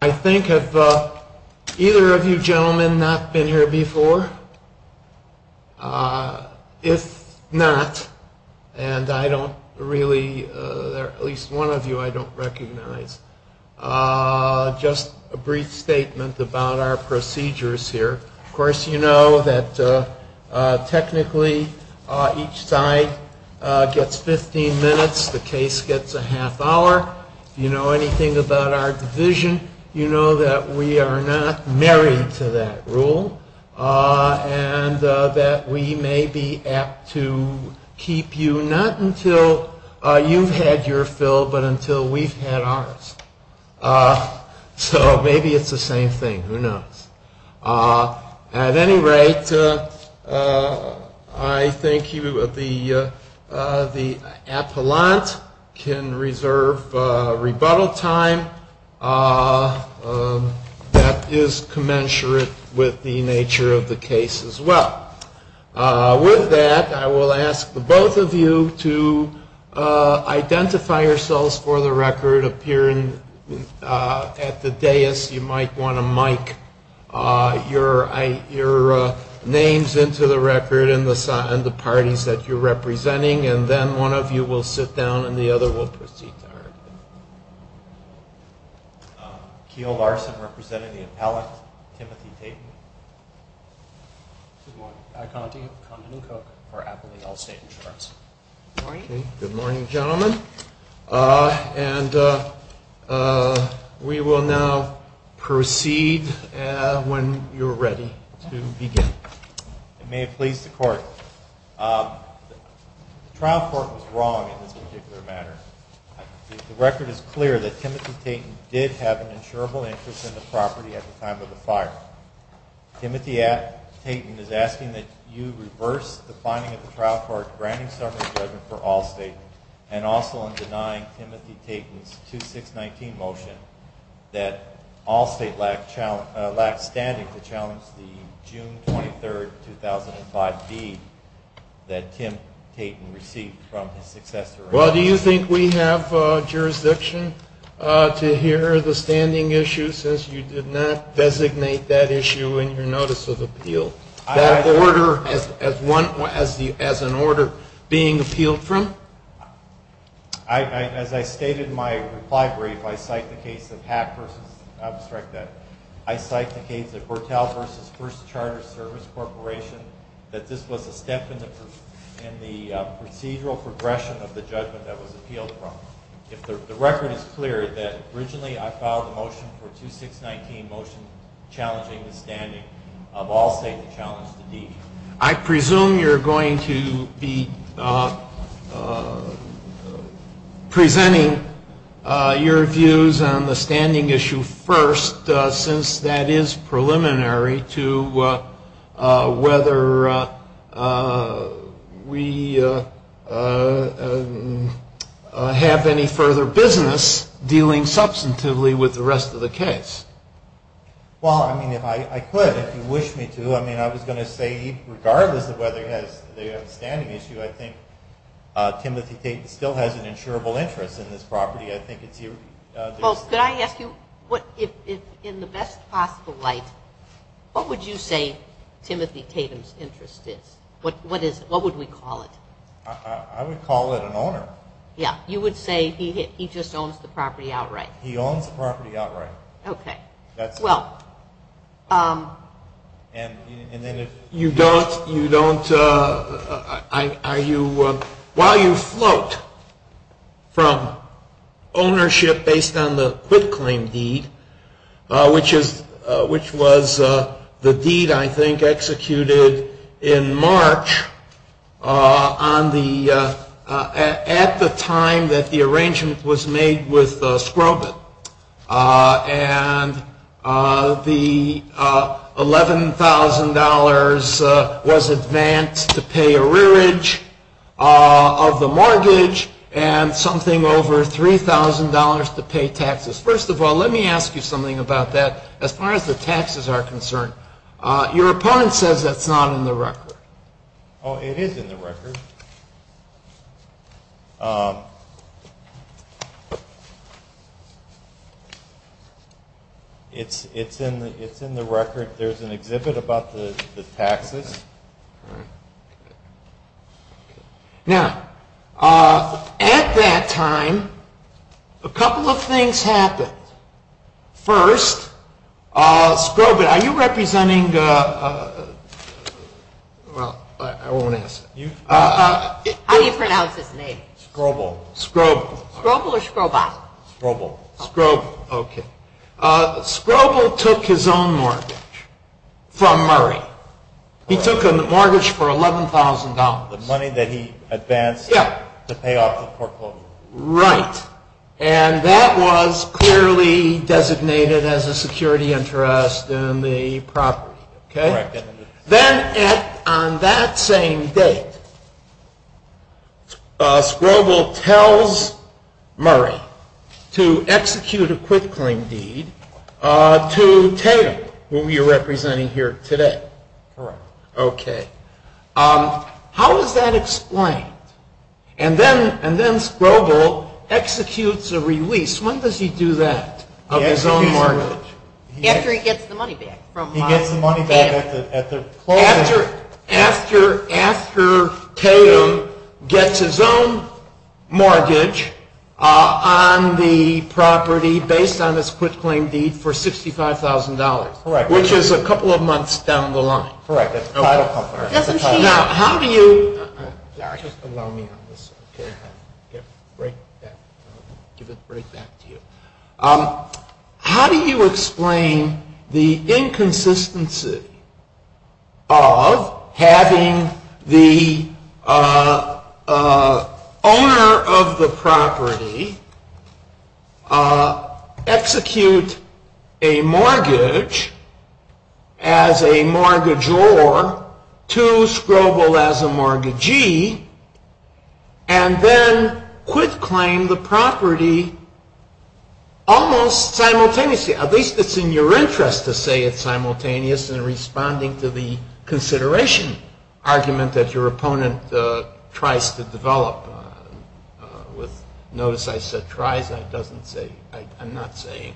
I think have either of you gentlemen not been here before? If not, and I don't really, at least one of you I don't recognize, just a brief statement about our procedures here. Of course you know that technically each side gets 15 minutes, the case gets a half hour. You know anything about our division. You know that we are not married to that rule, and that we may be apt to keep you, not until you've had your fill, but until we've had ours. So maybe it's the same thing, who knows? At any rate, I think the appellant can reserve rebuttal time. That is commensurate with the nature of the case as well. With that, I will ask the both of you to identify yourselves for the record, if you're at the dais, you might want to mic your names into the record and the parties that you're representing. And then one of you will sit down and the other will proceed. Okay, good morning gentlemen, and we will now proceed when you're ready to begin. May it please the court, the trial court was wrong in this particular matter. The record is clear that Timothy Tatum did have an insurable interest in the property at the time of the fire. Timothy Tatum is asking that you reverse the finding of the trial court, granting some of the judgment for all state, and also I'm denying Timothy Tatum's 2-6-19 motion that all state lacked standing to challenge the June 23, 2005 deed that Tim Tatum received from his successor. Well, do you think we have jurisdiction to hear the standing issue since you did not designate that issue in your notice of appeal? That order as one, as an order being appealed from? I, as I stated in my reply brief, I cyclicate the Pat versus, I'll just strike that. I cyclicate the Bortel versus First Charter Service Corporation that this was a step in the procedural progression of the judgment that was appealed from. The record is clear that originally I filed a motion for 2-6-19 motion challenging the standing of all state accounts of the deed. I presume you're going to be presenting your views on the standing issue first since that is preliminary to whether we have any further business dealing substantively with the rest of the case. Well, I mean, I could if you wish me to. I mean, I was going to say regardless of whether it has the standing issue, I think Timothy Tatum still has an insurable interest in this property. Well, could I ask you, in the best possible light, what would you say Timothy Tatum's interest is? What would we call it? I would call it an owner. Yeah, you would say he just owns the property outright. He owns the property outright. Okay, well. And then if you don't, you don't, are you, while you float from ownership based on the quitclaim deed, which was the deed I think executed in March on the, at the time that the arrangement was made with Scrumpet. And the $11,000 was advanced to pay a rearage of the mortgage and something over $3,000 to pay taxes. First of all, let me ask you something about that. As far as the taxes are concerned, your opponent says it's not in the record. Oh, it is in the record. It's, it's in the, it's in the record. There's an exhibit about the, the taxes. Now, at that time, a couple of things happened. First, Scrumpet, are you representing the, well, I won't ask. How do you pronounce his name? Scroble. Scroble. Scroble or Scrobot? Scroble. Scroble. Okay. Scroble took his own mortgage from Murray. He took a mortgage for $11,000. The money that he advanced to pay off his portfolio. Right. And that was clearly designated as a security interest in the property. Okay. Then at, on that same date, Scroble tells Murray to execute a quit claim deed to Taylor, who you're representing here today. Correct. Okay. How is that explained? And then, and then Scroble executes a release. When does he do that of his own mortgage? After he gets the money back. He gets the money back at the, at the. After, after, after Taylor gets his own mortgage on the property based on his quit claim deed for $65,000. Correct. Which is a couple of months down the line. Correct. That's the title of our, the title. Now, how do you. Sorry. Just allow me to have this. Okay. Okay. Great. Thank you. Give it right back to you. How do you explain the inconsistency of having the owner of the property execute a mortgage as a mortgagor to Scroble as a mortgagee, and then quit claim the property almost simultaneously? At least it's in your interest to say it's simultaneous in responding to the consideration argument that your opponent tries to develop. Notice I said tries. That doesn't say, I'm not saying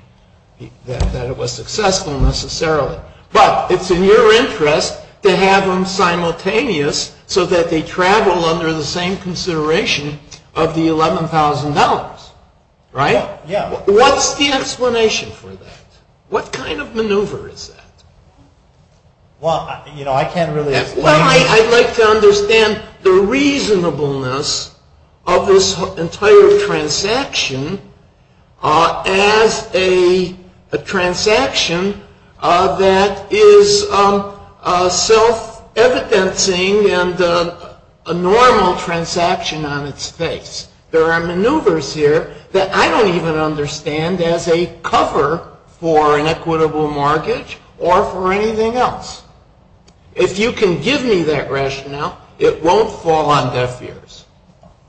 that it was successful necessarily. But it's in your interest to have them simultaneous so that they travel under the same consideration of the $11,000. Right? Yeah. What's the explanation for that? What kind of maneuver is that? Well, you know, I can't really explain. Well, I'd like to understand the reasonableness of this entire transaction as a transaction that is self-evidencing and a normal transaction on its face. There are maneuvers here that I don't even understand as a cover for an equitable mortgage or for anything else. If you can give me that rationale, it won't fall on deaf ears.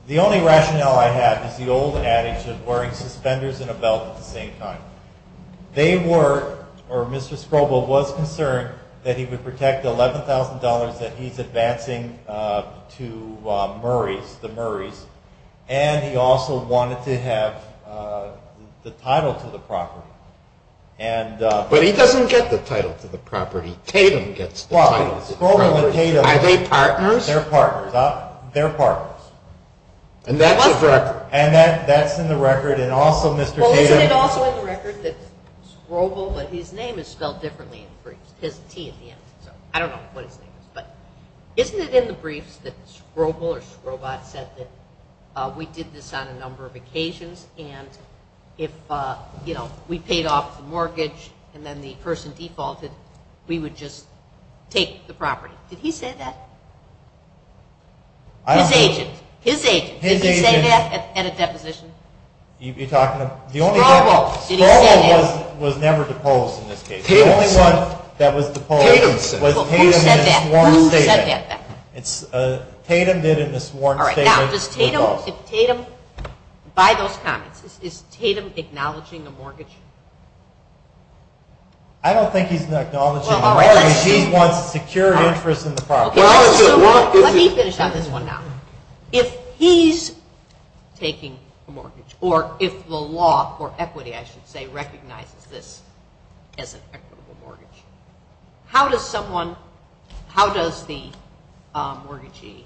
The only rationale I have is the old addicts are wearing suspenders and a belt at the same time. They were, or Mr. Scroble was concerned that he would protect the $11,000 that he's advancing to Murray, the Murrays. And he also wanted to have the title to the property. And- But he doesn't get the title to the property. Kaylin gets the title to the property. Are they partners? They're partners. They're partners. And that's in the record. And that's in the record. And also, Mr. Kaylin- Well, isn't it also in the record that Scroble, but his name is spelled differently in the brief. It says T at the end. I don't know what his name is. But isn't it in the briefs that Scroble or Scrobot said that we did this on a number of occasions and if, you know, we paid off the mortgage and then the person defaulted, we would just take the property. Did he say that? I don't think- His agent. His agent. Did he say that at a deposition? You're talking about- Scroble. Scroble was never deposed in this case. The only one that was deposed- Tatum. Was Tatum in a sworn statement. Tatum did a sworn statement- All right. Now, is Tatum, by this time, is Tatum acknowledging the mortgage? I don't think he's acknowledging the mortgage. He wants a secured interest in the property. Let me finish on this one now. If he's taking a mortgage, or if the law for equity, I should say, recognizes this as an equitable mortgage, how does someone- how does the mortgagee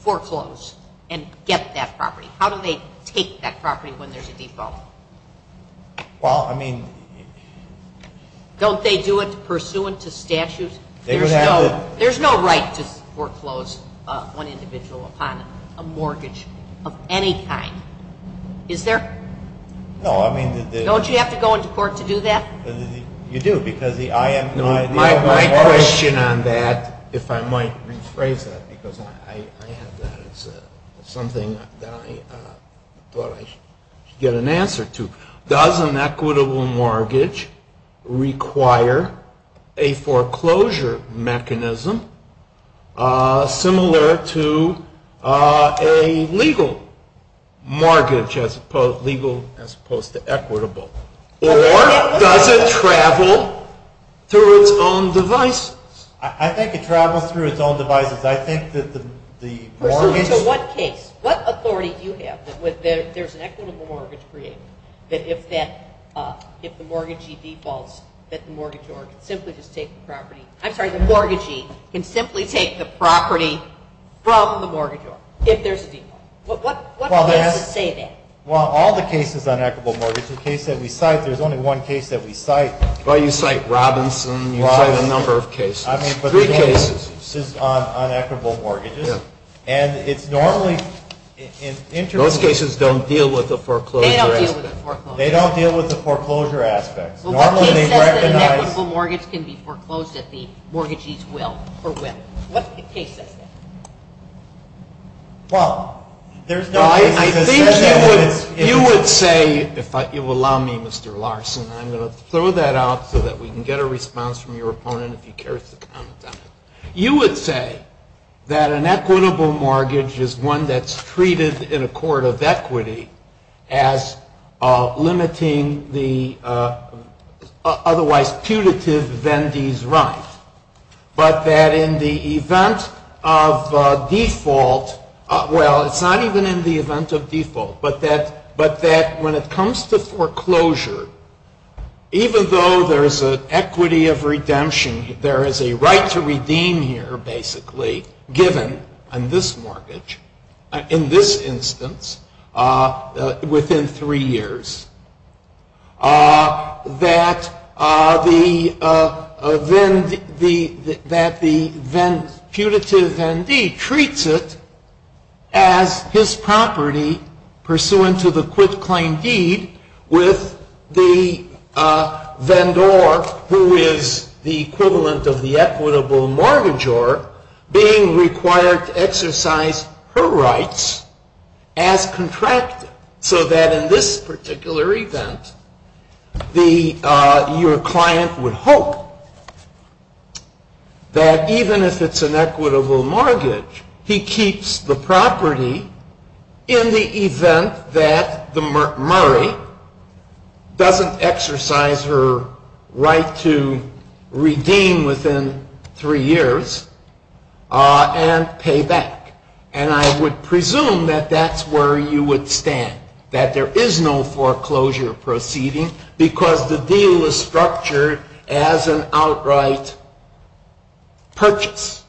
foreclose and get that property? How do they take that property when there's a default? Well, I mean- Don't they do it pursuant to statutes? There's no right to foreclose one individual upon a mortgage of any kind. Is there? No, I mean- Don't you have to go into court to do that? You do, because the- My question on that, if I might rephrase that, because I have that. It's something that I thought I should get an answer to. Does an equitable mortgage require a foreclosure mechanism similar to a legal mortgage as opposed to equitable? Or does it travel through its own devices? I think it travels through its own devices. I think that the mortgage- In what case, what authority do you have that if there's an equitable mortgage created, that if the mortgagee defaults, that the mortgagee can simply just take the property- I'm sorry, the mortgagee can simply take the property from the mortgagee if there's a default. What would you have to say to that? Well, all the cases on equitable mortgages, the case that we cite, there's only one case that we cite. Well, you cite Robinson, you cite a number of cases. Three cases. I mean, but they don't exist on equitable mortgages. And it normally- Those cases don't deal with the foreclosure aspect. They don't deal with the foreclosure aspect. They don't deal with the foreclosure aspect. Well, what if an equitable mortgage can be foreclosed at the mortgagee's will for whether? What's the case like that? Well, there's- I think that you would say, if you'll allow me, Mr. Larson, and I'm going to throw that out so that we can get a response from your opponent if he cares to comment on it. You would say that an equitable mortgage is one that's treated in a court of equity as limiting the otherwise-tutitive vendee's rights. But that in the event of default, well, it's not even in the event of default, but that when it comes to foreclosure, even though there's an equity of redemption, there is a right to redeem here, basically, given on this mortgage, in this instance, within three years, that the then-putative vendee treats it as his property, pursuant to the quit-claim deed, with the vendor who is the equivalent of the equitable mortgagor being required to exercise her rights as contracted. So that in this particular event, your client would hope that even if it's an equitable mortgage, he keeps the property in the event that the murderer doesn't exercise her right to redeem within three years and pay back. And I would presume that that's where you would stand, that there is no foreclosure proceeding, because the deal is structured as an outright purchase,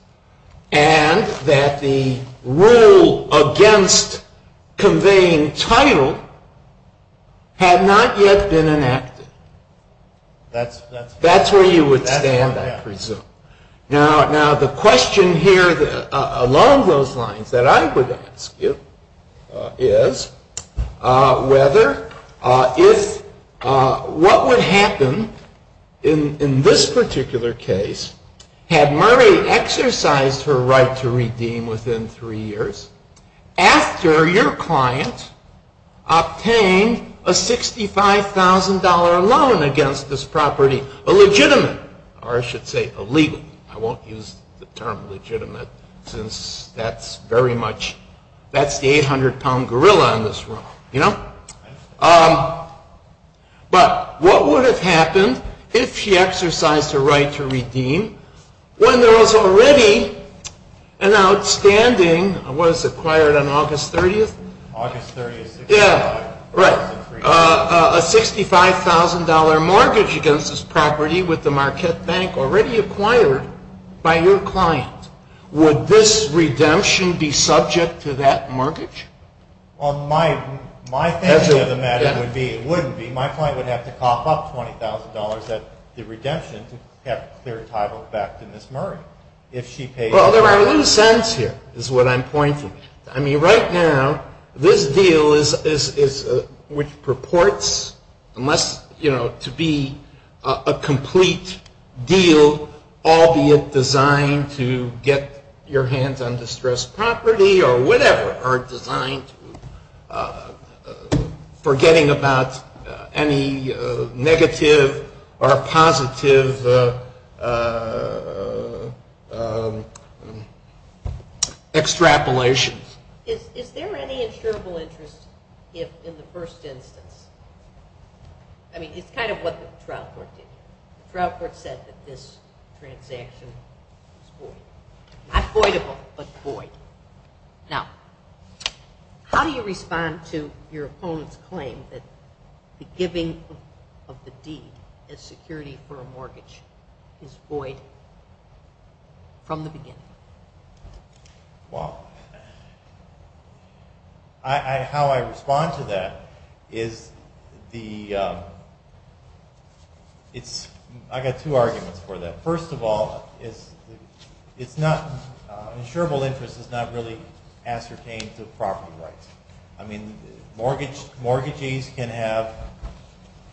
and that the rule against conveying title had not yet been enacted. That's where you would stand, I presume. Now, the question here, along those lines that I would ask you, is whether if what would happen in this particular case, had Murray exercised her right to redeem within three years, after your client obtained a $65,000 loan against this property, a legitimate, or I should say a legal, I won't use the term legitimate, since that's very much, that's the 800-pound gorilla in this room, you know? But what would have happened if she exercised her right to redeem when there was already an outstanding, what is it, acquired on August 30th? August 30th. Yeah, right. A $65,000 mortgage against this property with the Marquette Bank already acquired by your client. Would this redemption be subject to that mortgage? Well, there are loose ends here, is what I'm pointing to. I mean, right now, this deal, which purports to be a complete deal, albeit designed to get your hands on distressed property or whatever, are designed for getting about any negative or positive extrapolations. Is there any insurable interest in the first instance? I mean, it's kind of what the Stroud Court did. Stroud Court said that this transaction is void. Not voidable, but void. Now, how do you respond to your opponent's claim that the giving of the deed as security for a mortgage is void from the beginning? Well, how I respond to that is the, it's, I've got two arguments for that. First of all, it's not, insurable interest is not really ascertained with property rights. I mean, mortgagees can have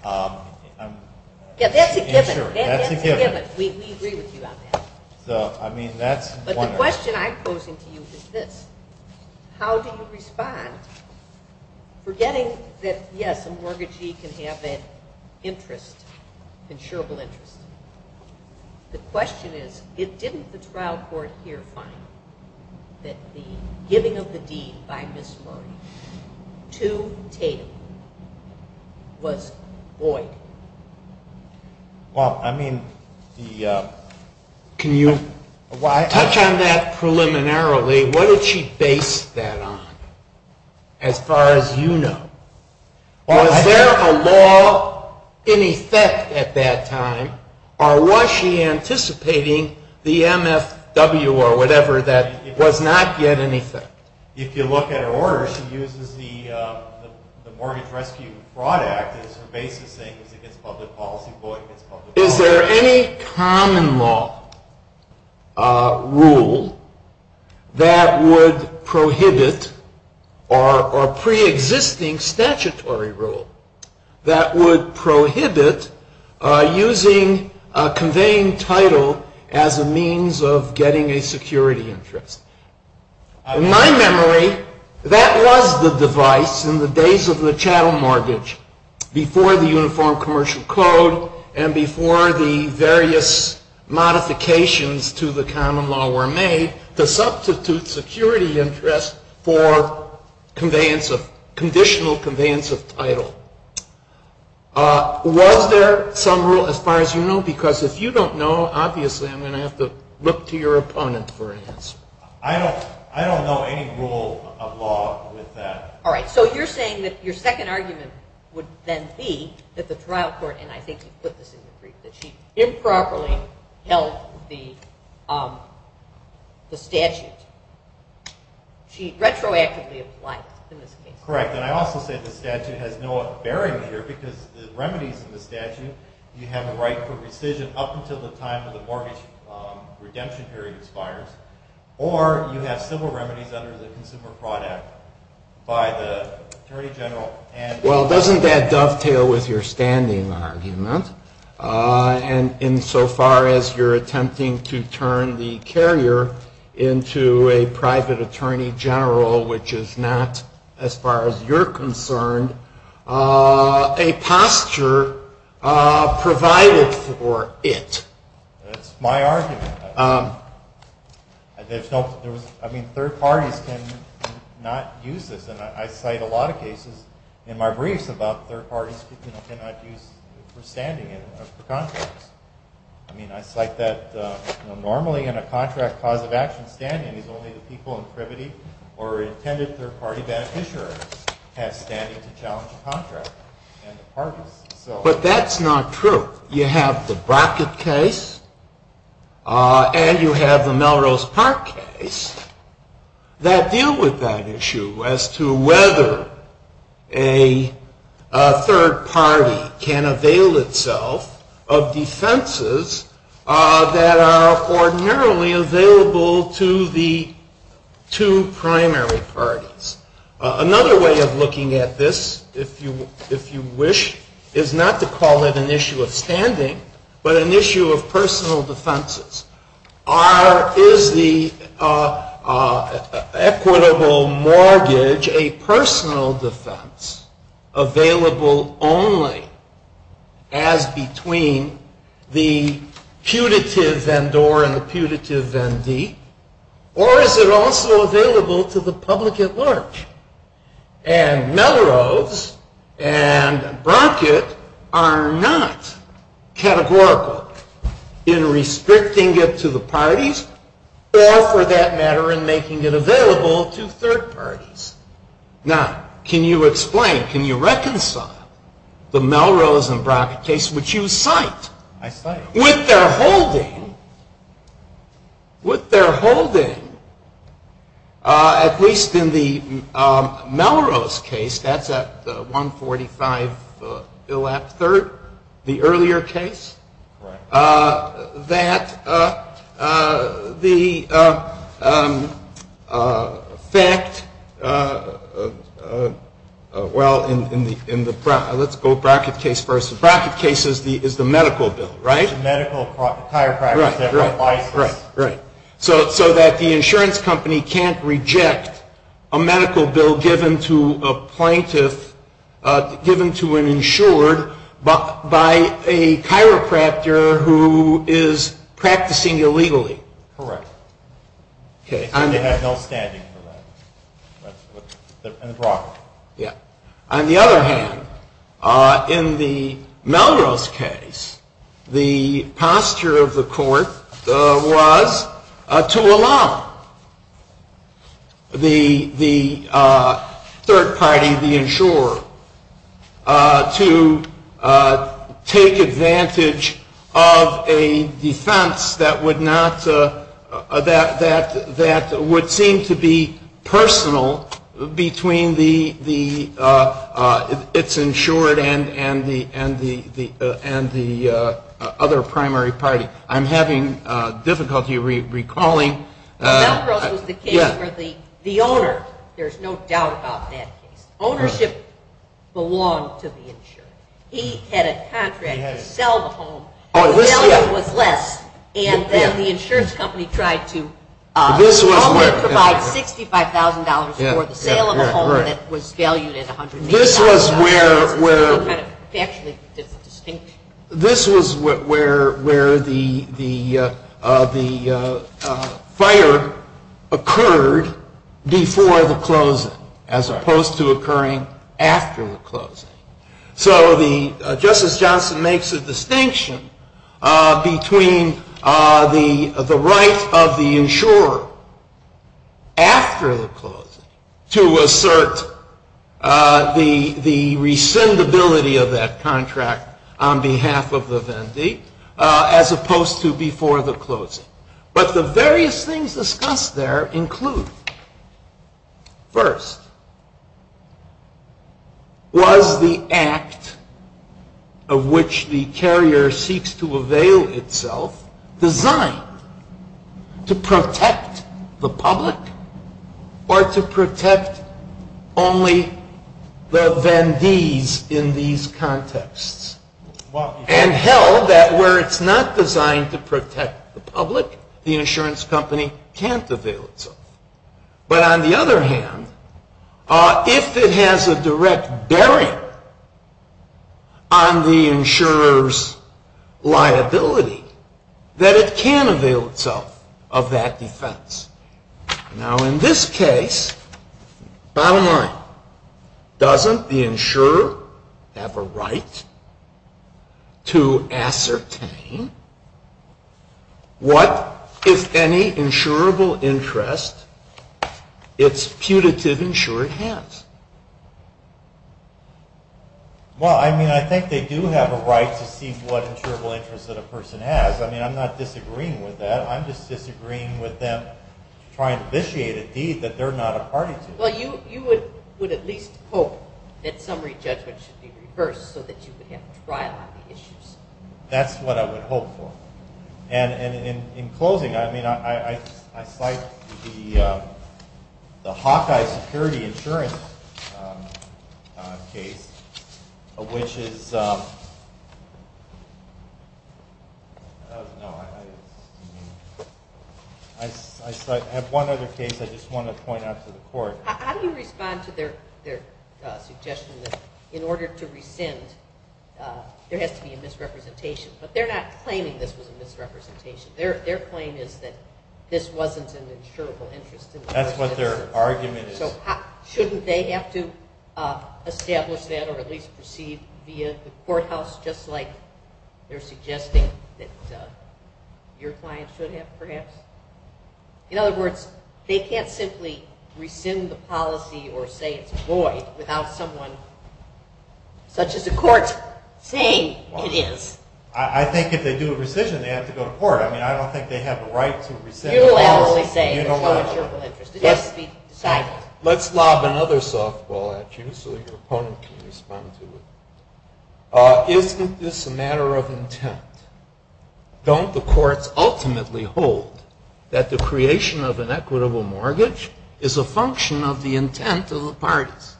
insurance. Yeah, that's a given. That's a given. We agree with you on that. So, I mean, that's one way. But the question I'm posing to you is this. How do you respond? Forgetting that, yes, a mortgagee can have an interest, insurable interest. The question is, if didn't the Stroud Court here find that the giving of the deed by this mortgage to Kate was void? Well, I mean, the... Can you... Well, I touched on that preliminarily. What did she base that on, as far as you know? Was there a law in effect at that time, or was she anticipating the MFW or whatever that was not yet in effect? If you look at her order, she uses the Mortgage Rescue and Fraud Act as her basis, do you think it's a public policy void? Is there any common law rule that would prohibit, or pre-existing statutory rule, that would prohibit using a conveying title as a means of getting a security interest? In my memory, that was the device in the days of the chattel mortgage, before the Uniform Commercial Code and before the various modifications to the common law were made to substitute security interest for conditional conveyance of title. Was there some rule, as far as you know? Because if you don't know, obviously I'm going to have to look to your opponent for an answer. I don't know any rule of law with that. All right. So you're saying that your second argument would then be that the trial court, and I think you put this in the brief, that she improperly tells the statute. She retroactively applies to this case. Correct. And I also think the statute has no bearing here, because the remedies in the statute, you have a right for rescission up until the time when the mortgage redemption period expires, or you have civil remedies under the Consumer Fraud Act by the Attorney General and the court. Well, doesn't that dovetail with your standing argument? And insofar as you're attempting to turn the carrier into a private attorney general, which is not, as far as you're concerned, a posture provided for it. That's my argument. I mean, third parties cannot use it. And I cite a lot of cases in my briefs about third parties who cannot use it for standing in a contract. I mean, I cite that normally in a contract, positive action standing is only the people in privity or intended third-party bad interest have standing to challenge the contract. But that's not true. You have the Brockett case and you have the Melrose Park case that deal with that issue as to whether a third party can avail itself of defenses that are ordinarily available to the two primary parties. Another way of looking at this, if you wish, is not to call it an issue of standing, but an issue of personal defenses. Is the equitable mortgage a personal defense available only as between the putative vendor and the putative Vendee, or is it also available to the public at large? And Melrose and Brockett are not categorical in restricting it to the parties or, for that matter, in making it available to third parties. Now, can you explain, can you reconcile the Melrose and Brockett case, which you cite, with their holding, with their holding, at least in the Melrose case, that's at 145 Eilat Third, the earlier case, that the fact, well, in the, let's go Brockett case first. The Brockett case is the medical bill, right? The medical, the chiropractor. Right, right, right. So that the insurance company can't reject a medical bill given to a plaintiff, given to an insured, by a chiropractor who is practicing illegally. Correct. Okay. They have no standing for that. And Brockett. On the other hand, in the Melrose case, the posture of the court was to allow the third party, the insurer, to take advantage of a defense that would not, that would seem to be personal between the, its insured and the other primary party. I'm having difficulty recalling. Melrose was the case for the owner. There's no doubt about that. Ownership belongs to the insurer. He had a contract to sell the home. The value was less. And then the insurance company tried to provide $65,000 for the sale of the home, and it was valued at $100,000. This was where the fire occurred before the closing, as opposed to occurring after the closing. So Justice Johnson makes a distinction between the right of the insurer, after the closing, to assert the rescindability of that contract on behalf of the vendee, as opposed to before the closing. But the various things discussed there include, first, was the act of which the carrier seeks to avail itself designed to protect the public or to protect only the vendees in these contexts? And, hell, that where it's not designed to protect the public, the insurance company can't avail itself. But on the other hand, if it has a direct barrier on the insurer's liability, then it can avail itself of that defense. Now, in this case, bottom line, doesn't the insurer have a right to ascertain what, if any, insurable interest its putative insurer has? Well, I mean, I think they do have a right to see what insurable interest that a person has. I mean, I'm not disagreeing with that. I'm just disagreeing with them trying to vitiate a deed that they're not a party to. Well, you would at least hope that summary judgment should be reversed so that you would get a trial on the issues. That's what I would hope for. And in closing, I cite the Hawkeye Security Insurance case, which is... I have one other case I just want to point out to the court. How do you respond to their suggestion that in order to rescind, there has to be a misrepresentation? But they're not claiming there's a misrepresentation. Their claim is that this wasn't an insurable interest. That's what their argument is. Shouldn't they have to establish that or at least proceed via the courthouse, just like they're suggesting that your client should have, perhaps? In other words, they can't simply rescind the policy or say, without someone, such as the court, saying it is. I think if they do a rescission, they have to go to court. I mean, I don't think they have the right to rescind. You'll have to only say it's not an insurable interest. It has to be decided. Let's lob another softball at you so your opponent can respond to it. Isn't this a matter of intent? Don't the courts ultimately hold that the creation of an equitable mortgage is a function of the intent of the parties?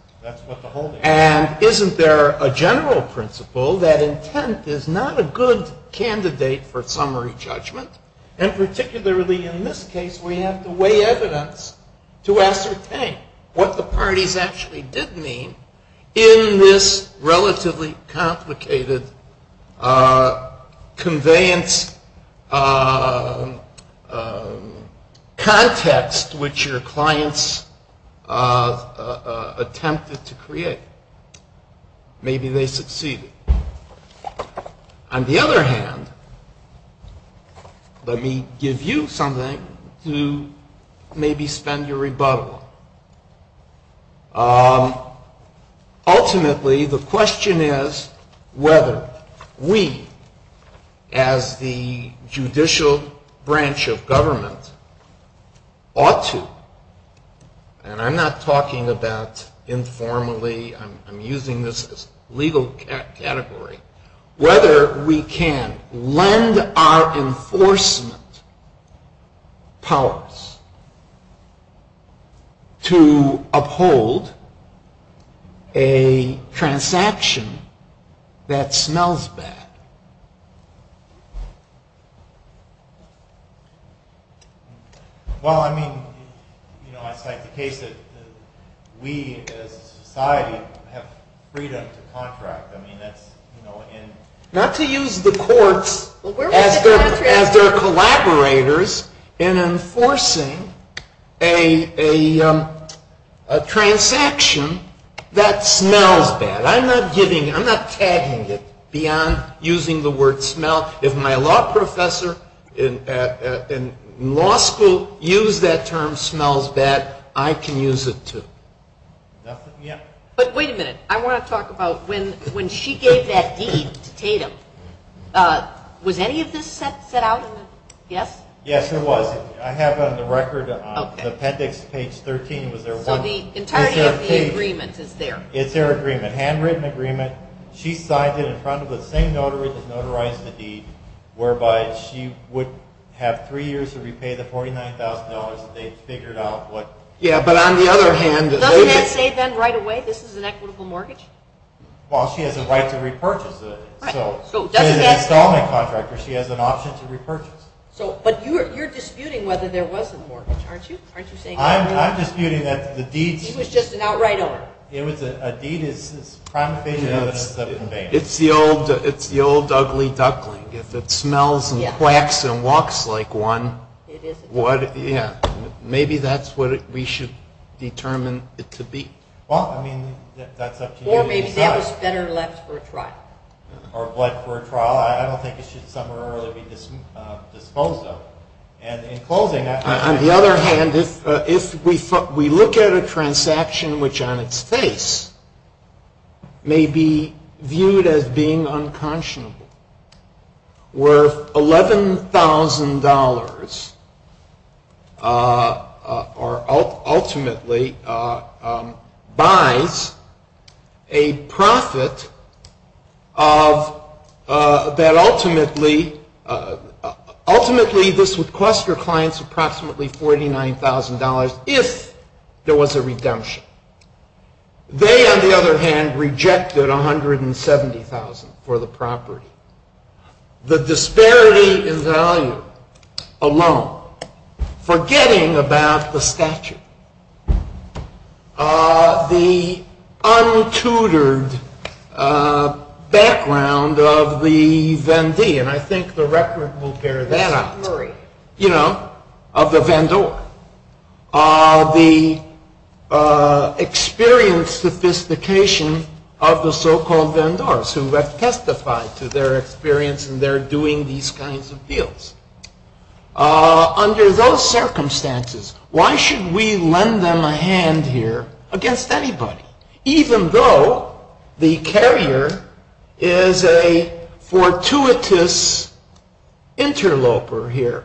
And isn't there a general principle that intent is not a good candidate for summary judgment? And particularly in this case, we have to weigh evidence to ascertain what the parties actually did mean in this relatively complicated conveyance context which your clients attempted to create. Maybe they succeeded. On the other hand, when he gives you something, he maybe spends a rebuttal. Ultimately, the question is whether we, as the judicial branch of government, ought to, and I'm not talking about informally, I'm using this as a legal category, whether we can lend our enforcement powers to uphold a transaction that smells bad. Well, I mean, I'd like to take it that we as a society have freedom to contract. Not to use the courts as their collaborators in enforcing a transaction that smells bad. I'm not giving, I'm not tagging it beyond using the word smell. If my law professor in law school used that term smells bad, I can use it too. But wait a minute. I want to talk about when she gave that deed to Tatum. Was any of this set out in the, yes? Yes, it was. I have on the record that on appendix page 13, was there one? Well, the entirety of the agreement is there. It's their agreement. Handwritten agreement. She signed it in front of the same notary that's notarizing the deed, whereby she would have three years to repay the $49,000 if they'd figured out what. Yeah, but on the other hand. Doesn't that say then right away this is an equitable mortgage? Well, she has the right to repurchase it. So, she's an excellent contractor. She has an option to repurchase. So, but you're disputing whether there was a mortgage, aren't you? Aren't you saying that? I'm disputing that the deed. It was just an outright order. It was a deed. It's the old ugly duckling. It smells and quacks and walks like one. Maybe that's what we should determine it to be. Well, I mean, that's up to you. Or maybe that was better left for a trial. Or what for a trial? I don't think it should come early to be disposed of. And in closing. On the other hand, if we look at a transaction which on its face may be viewed as being unconscionable, worth $11,000 or ultimately buys a profit that ultimately, ultimately this would cost your clients approximately $49,000 if there was a redemption. They, on the other hand, rejected $170,000 for the property. The disparity in value alone. Forgetting about the statute. The untutored background of the Vendee. And I think the record will bear that. I'm sorry. You know, of the Vendor. The experienced sophistication of the so-called Vendors, who have testified to their experience in their doing these kinds of deals. Under those circumstances, why should we lend them a hand here against anybody? Even though the carrier is a fortuitous interloper here,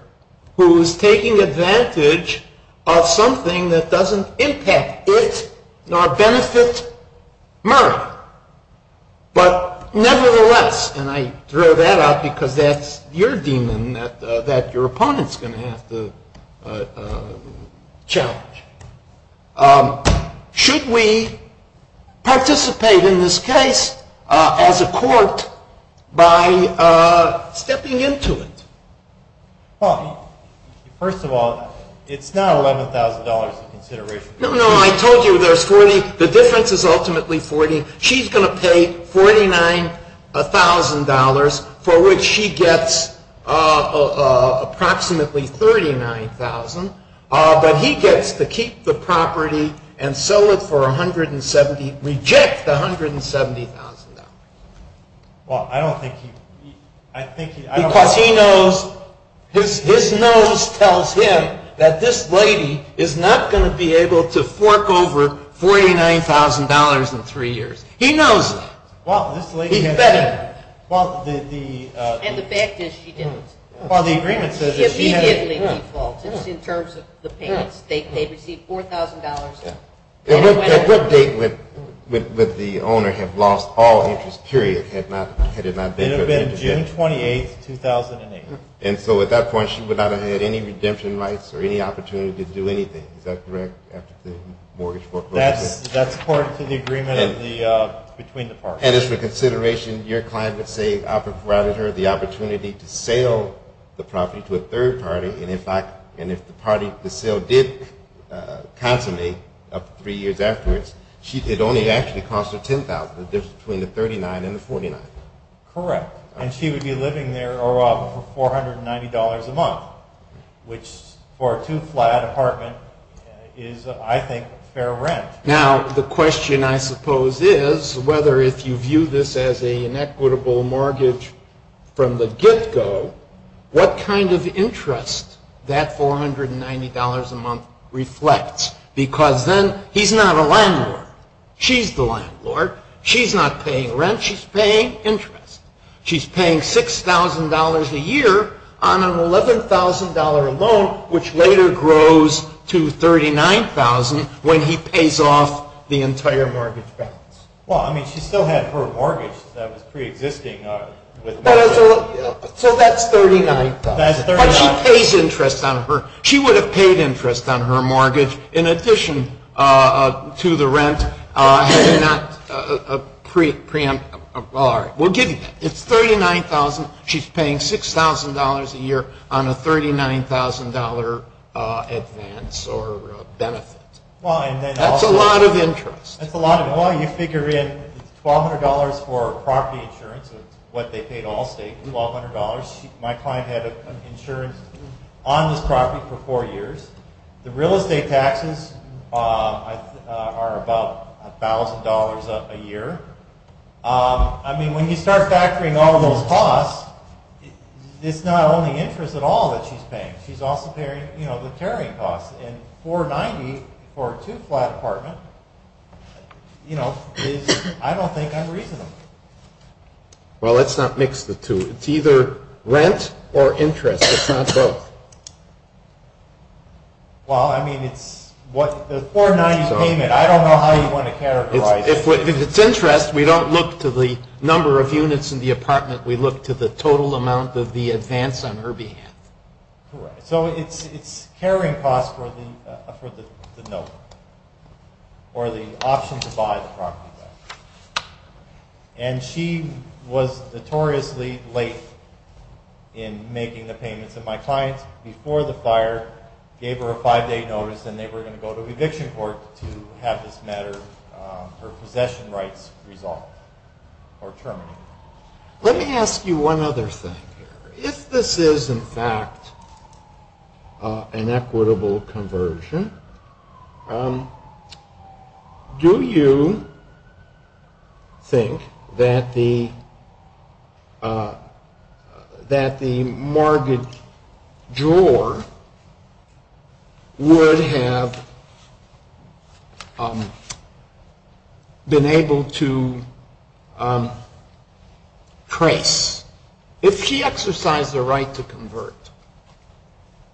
who is taking advantage of something that doesn't impact it nor benefit Merrill. But nevertheless, and I throw that out because that's your demon that your opponent's going to have to challenge. Should we participate in this case as a court by stepping into it? Well, first of all, it's not $11,000 in consideration. No, no, I told you there's 40. The difference is ultimately 40. She's going to pay $49,000 for which she gets approximately $39,000. But he gets to keep the property and sell it for $170,000, reject the $170,000. Well, I don't think he... Because he knows, his nose tells him that this lady is not going to be able to fork over $49,000 in three years. He knows it. Well, this lady... He said it. Well, the... And the fact is she didn't. Well, the agreement says... Yes, he did make the default in terms of the payment. They received $4,000. And what date would the owner have lost all interest, period, had it not been... It would have been June 28, 2008. And so at that point, she would not have had any redemption rights or any opportunity to do anything. Is that correct? That's part of the agreement between the parties. And as a consideration, your client would say I provided her the opportunity to sell the property to a third party. And in fact, if the party to sell did consummate three years afterwards, she did only actually cost her $10,000. There's a difference between the $39,000 and the $49,000. Correct. And she would be living there for $490 a month, which for a two-flat apartment is, I think, fair rent. Now, the question, I suppose, is whether if you view this as an equitable mortgage from the get-go, what kind of interest that $490 a month reflects. Because then he's not a landlord. She's the landlord. She's not paying rent. She's paying interest. She's paying $6,000 a year on an $11,000 loan, which later grows to $39,000 when he pays off the entire mortgage. Well, I mean, she still had her mortgage that was pre-existing. So that's $39,000. She pays interest on her. In addition to the rent, it's $39,000. She's paying $6,000 a year on a $39,000 advance or benefit. That's a lot of interest. That's a lot of interest. Well, you figure in $1,200 for property insurance, which is what they pay to all states, $1,200. My client had insurance on the property for four years. The real estate taxes are about $1,000 a year. I mean, when you start factoring all those costs, it's not only interest at all that she's paying. She's also paying the tariff costs. And $490 for a two-flat apartment, you know, I don't think that's reasonable. Well, it's not mixed with two. It's either rent or interest. It's not so. Well, I mean, the $490 payment, I don't know how you want to characterize it. If it's interest, we don't look to the number of units in the apartment. We look to the total amount of the advance on her behalf. Correct. So it's carrying costs for the note or the option to buy the property. And she was notoriously late in making the payment to my client before the fire. Gave her a five-day notice, and they were going to go to eviction court to have this matter, her possession rights resolved or terminated. Let me ask you one other thing here. If this is, in fact, an equitable conversion, do you think that the mortgage drawer would have been able to trace? If she exercised the right to convert,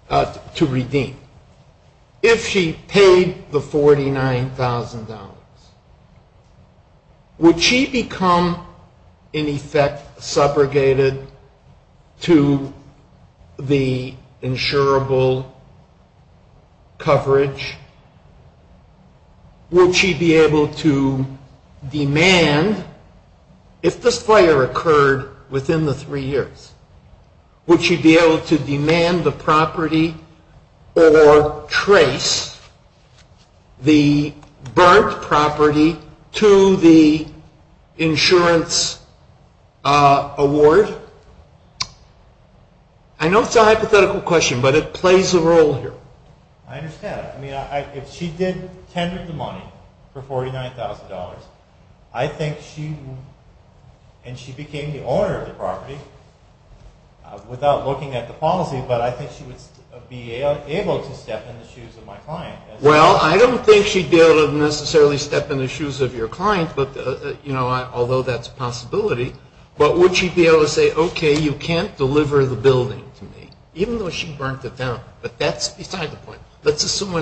to redeem, if she paid the $49,000, would she become, in effect, segregated to the insurable coverage? Would she be able to demand, if the fire occurred within the three years, would she be able to demand the property or trace the burnt property to the insurance award? I know it's a hypothetical question, but it plays a role here. I understand. I mean, if she did tender the money for $49,000, and she became the owner of the property, without looking at the policy, but I think she would be able to step in the shoes of my client. Well, I don't think she'd be able to necessarily step in the shoes of your client, although that's a possibility. But would she be able to say, okay, you can't deliver the building to me? Even though she burnt it down, but that's beside the point. Let's assume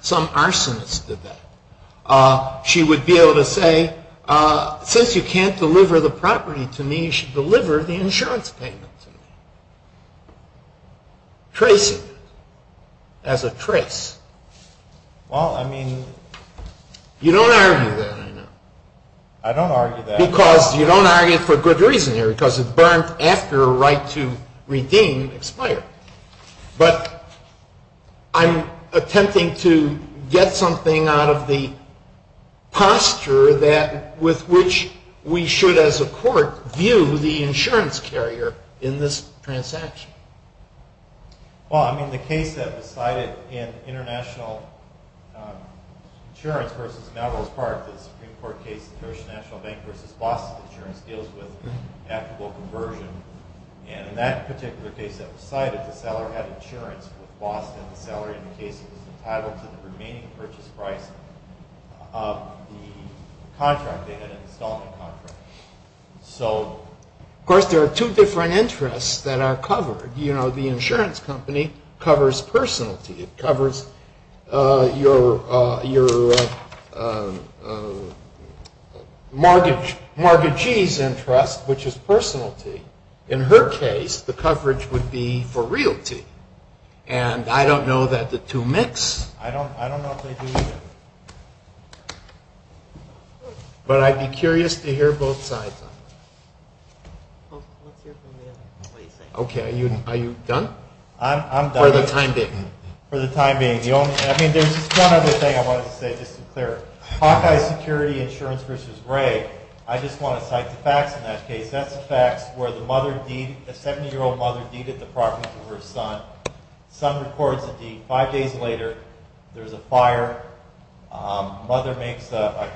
some arsonist did that. She would be able to say, since you can't deliver the property to me, you should deliver the insurance payment to me. Trace it, as a trace. Well, I mean... You don't argue that, do you? I don't argue that. Because you don't argue it for good reason here, because it's burnt after a right to redeem expired. But I'm attempting to get something out of the posture with which we should, as a court, view the insurance carrier in this transaction. Well, I mean, the case that was cited in international insurance versus Navajo Park, the Supreme Court case, the Paris National Bank versus Boston insurance deals with taxable conversion. And in that particular case that was cited, the seller had insurance for Boston. The seller, in the case, was entitled to the remaining purchase price of the contract they had in the consulting contract. So, of course, there are two different interests that are covered. You know, the insurance company covers personality. It covers your mortgagee's interest, which is personality. In her case, the coverage would be for realty. And I don't know that the two mix. I don't know if they do either. But I'd be curious to hear both sides. Okay. Are you done? I'm done. For the time being. For the time being. I mean, there's one other thing I wanted to say, just to be clear. Hawkeye Security Insurance versus Ray, I just want to cite the facts in that case. That's a fact where the mother deed, the 70-year-old mother deeded the property to her son. The son reports a deed. Five days later, there's a fire. The mother makes a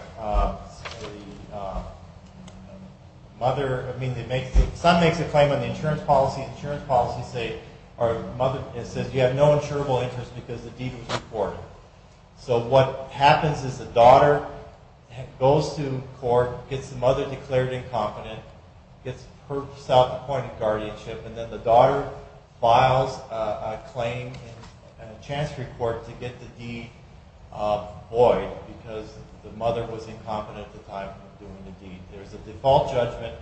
claim on the insurance policy. The insurance policy says you have no insurable interest because the deed was reported. So what happens is the daughter goes to court, gets the mother declared incompetent, gets her self-appointed guardianship, and then the daughter files a claim in a chance report to get the deed void because the mother was incompetent at the time of doing the deed. There's a default judgment,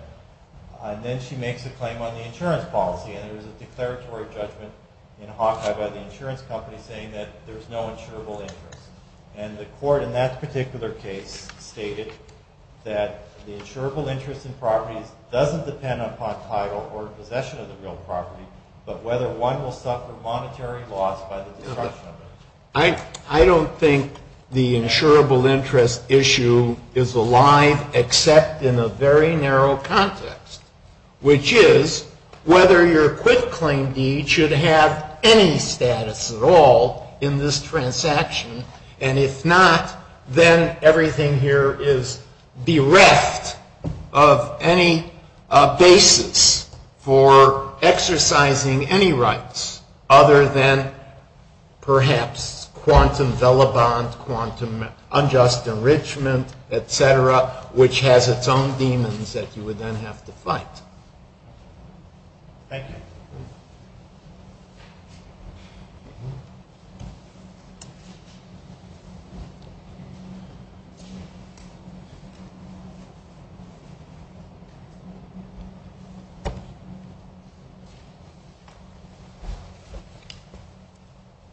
and then she makes a claim on the insurance policy. And there's a declaratory judgment in Hawkeye by the insurance company saying that there's no insurable interest. And the court in that particular case stated that the insurable interest in property doesn't depend upon title or possession of the real property, but whether one will suffer monetary loss by the destruction of it. I don't think the insurable interest issue is alive except in a very narrow context, which is whether your quitclaim deed should have any status at all in this transaction. And if not, then everything here is the rest of any basis for exercising any rights other than perhaps quantum vellabons, quantum unjust enrichment, etc., which has its own demons that you would then have to fight. Thank you.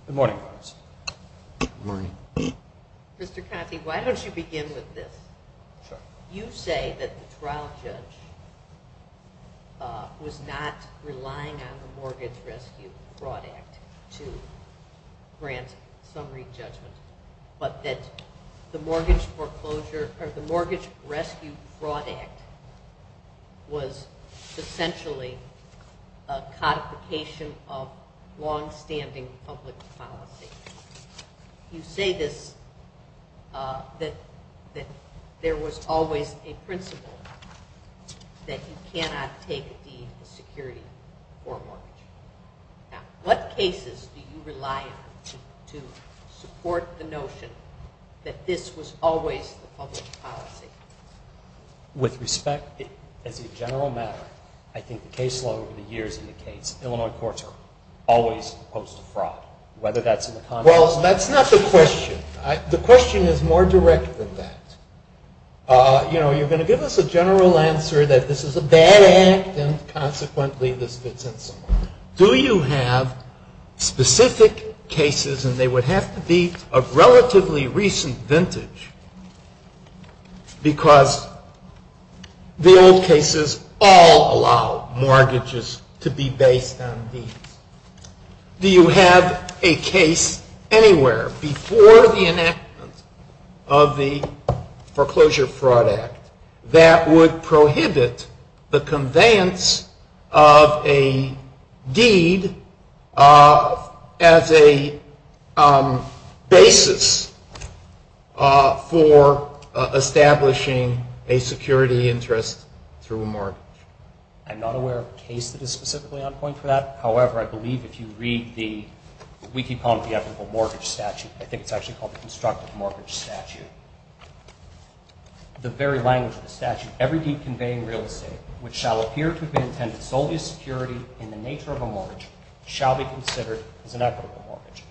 Good morning. Good morning. Mr. Coffey, why don't you begin with this? You say that the trial judge was not relying on the Mortgage Rescue Fraud Act to grant summary judgment, but that the Mortgage Rescue Fraud Act was essentially a codification of long-standing public policy. You say that there was always a principle that you cannot take deeds of security for mortgage. In what cases do you rely to support the notion that this was always a public policy? With respect, as a general matter, I think the case law over the years indicates that Illinois courts are always opposed to fraud, whether that's in the context of— Well, that's not the question. The question is more direct than that. You know, you're going to give us a general answer that this is a bad act, and consequently this fits in somewhere. Do you have specific cases, and they would have to be of relatively recent vintage, because the old cases all allow mortgages to be based on deeds. Do you have a case anywhere before the enactment of the Foreclosure Fraud Act that would prohibit the conveyance of a deed as a basis for establishing a security interest through a mortgage? I'm not aware of a case that is specifically on point for that. However, I believe if you read the—we keep calling it the Ethical Mortgage Statute. I think it's actually called the Constructive Mortgage Statute. The very language of the statute, every deed conveying real estate, which shall appear to have been intended solely as security in the nature of a mortgage, shall be considered as an ethical mortgage.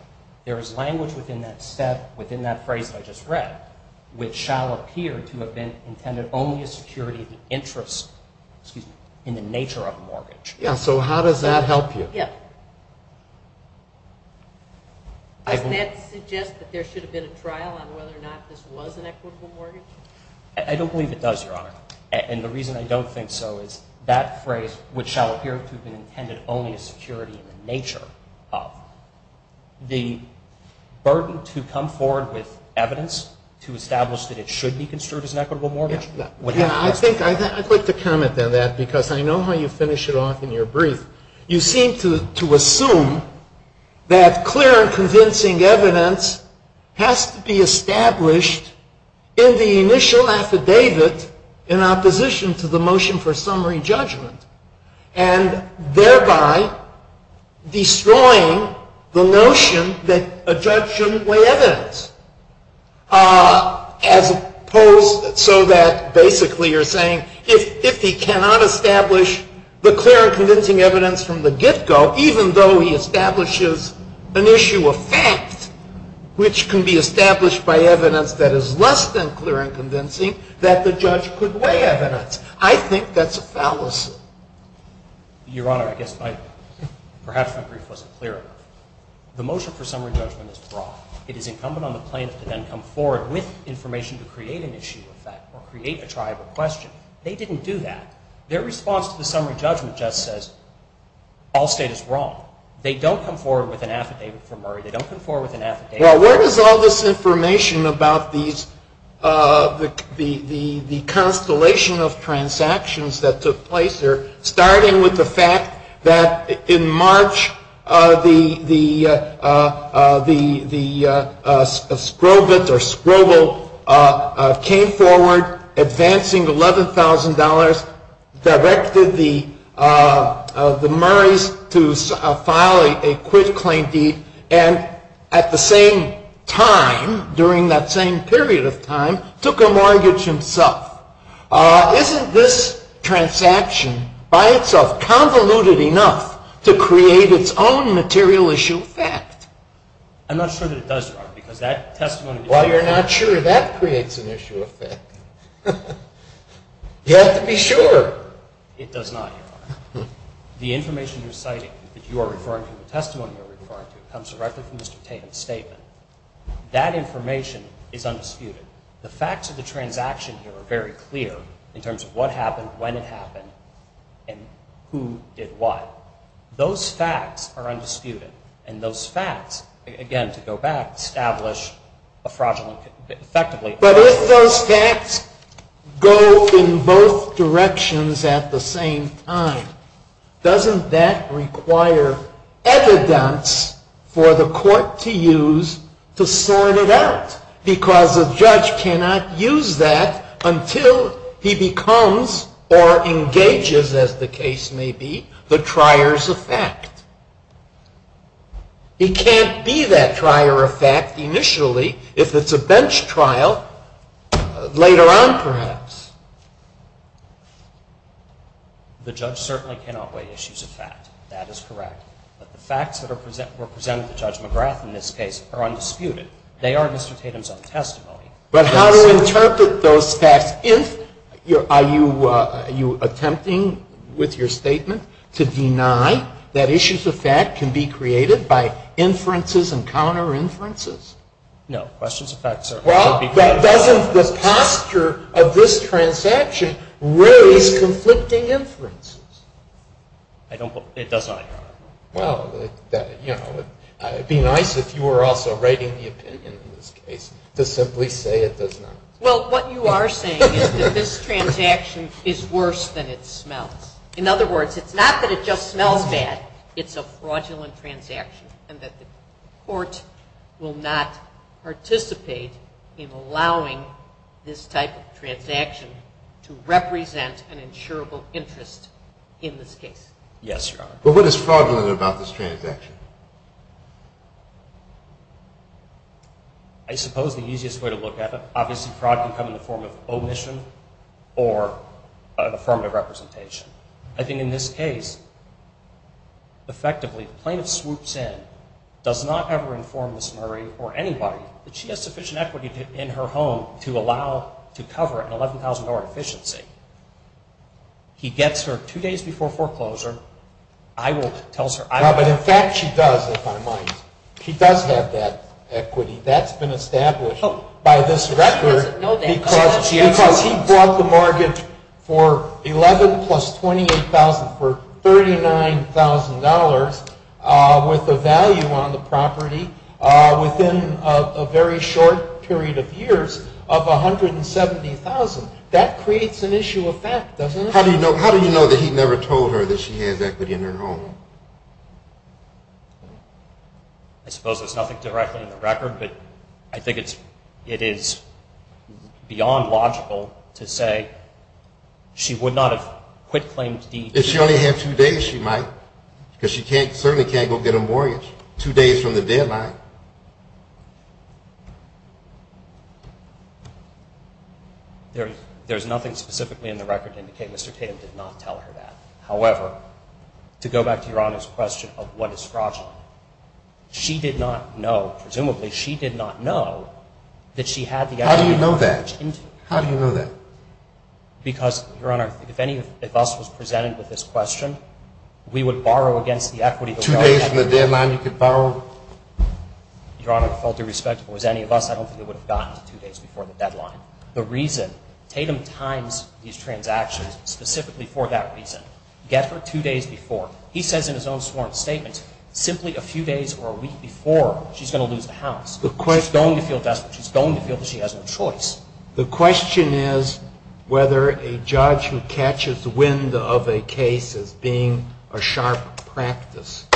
There is language within that phrase I just read, which shall appear to have been intended only as security in the nature of a mortgage. So how does that help you? Yes. Does that suggest that there should have been a trial on whether or not this was an equitable mortgage? I don't believe it does, Your Honor. And the reason I don't think so is that phrase, which shall appear to have been intended only as security in the nature of, the burden to come forward with evidence to establish that it should be considered as an equitable mortgage. I'd like to comment on that, because I know how you finish it off in your brief. You seem to assume that clear and convincing evidence has to be established in the initial affidavit in opposition to the motion for summary judgment, and thereby destroying the notion that a judge shouldn't weigh evidence. As opposed so that basically you're saying, if he cannot establish the clear and convincing evidence from the get-go, even though he establishes an issue of fact, which can be established by evidence that is less than clear and convincing, that the judge could weigh evidence. I think that's a fallacy. Your Honor, I guess I, perhaps my brief wasn't clear enough. The motion for summary judgment is broad. It is incumbent on the plaintiff to then come forward with information to create an issue of fact or create a trial for question. They didn't do that. Their response to the summary judgment just says, all state is wrong. They don't come forward with an affidavit for Murray. They don't come forward with an affidavit. Well, where does all this information about the constellation of transactions that took place, starting with the fact that in March the Skrovets or Skrovo came forward, advancing $11,000, directed the Murrays to file a quit claim deed, and at the same time, during that same period of time, took a mortgage himself. Isn't this transaction by itself convoluted enough to create its own material issue of fact? I'm not sure that it does, Your Honor, because that testimony… Well, you're not sure that creates an issue of fact. You have to be sure. It does not, Your Honor. The information you're citing, that you are referring to, the testimony you're referring to, comes directly from Mr. Tatum's statement. That information is undisputed. The facts of the transaction here are very clear in terms of what happened, when it happened, and who did what. Those facts are undisputed. And those facts, again, to go back, establish a fraudulent… But if those facts go in both directions at the same time, doesn't that require evidence for the court to use to sort it out? Because the judge cannot use that until he becomes or engages, as the case may be, the trier's effect. It can't be that trier effect initially if it's a bench trial later on, perhaps. The judge certainly cannot weigh issues of fact. That is correct. But the facts that are presented to Judge McGrath in this case are undisputed. They are Mr. Tatum's own testimony. But how do you interpret those facts? Are you attempting, with your statement, to deny that issues of fact can be created by inferences and counter-inferences? No, questions of fact, sir. Well, doesn't the posture of this transaction raise conflicting inferences? I don't believe it does, Your Honor. Well, it would be nice if you were also right in the opinion in this case to simply say it does not. Well, what you are saying is that this transaction is worse than it smells. In other words, it's not that it just smells bad, it's a fraudulent transaction, and that the court will not participate in allowing this type of transaction to represent an insurable interest in this case. Yes, Your Honor. But what is fraudulent about this transaction? I suppose the easiest way to look at it, obviously fraud can come in the form of omission or in the form of representation. I think in this case, effectively, plaintiff swoops in, does not ever inform Ms. Murray or anybody that she has sufficient equity in her home to cover an $11,000 deficiency. He gets her two days before foreclosure. I won't tell her. No, but in fact she does, if I might. She does have that equity. That's been established by this record because he brought the mortgage for $11,000 plus $28,000 for $39,000 with a value on the property within a very short period of years of $170,000. That creates an issue of fact, doesn't it? How do you know that he never told her that she has equity in her home? I suppose there's nothing directly in the record, but I think it is beyond logical to say she would not have quit claims deep. If she only had two days, she might, because she certainly can't go get a mortgage two days from the deadline. There's nothing specifically in the record to indicate Mr. Pitten did not tell her that. However, to go back to Your Honor's question of what is fraudulent, she did not know, presumably she did not know that she had the equity. How do you know that? How do you know that? Because, Your Honor, if any of us was presented with this question, we would borrow against the equity. Two days from the deadline you could borrow? Your Honor, with all due respect, if it was any of us, I don't think it would have gotten to two days before the deadline. The reason Tatum times these transactions specifically for that reason. Get her two days before. He says in his own sworn statement, simply a few days or a week before she's going to lose the house. The question is whether a judge who catches wind of a case of being a sharp practice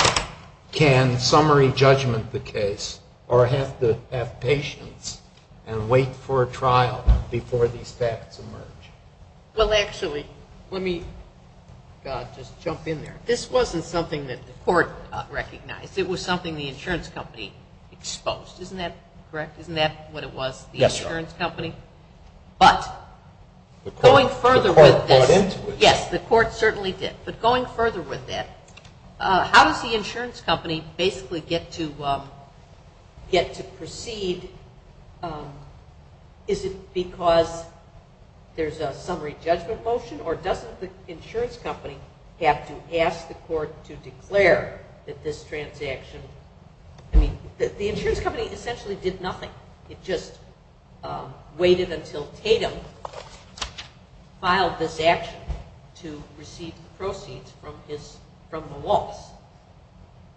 can summary judgment the case or have to have patience and wait for a trial before these facts emerge. Well, actually, let me just jump in there. This wasn't something that the court recognized. It was something the insurance company exposed. Isn't that correct? Isn't that what it was, the insurance company? Yes, Your Honor. But going further with that. The court bought into it. Yes, the court certainly did. But going further with that, how did the insurance company basically get to proceed? Is it because there's a summary judgment motion? Or doesn't the insurance company have to ask the court to declare that this transaction, I mean, the insurance company essentially did nothing. It just waited until Tatum filed this action to receive the proceeds from the loss.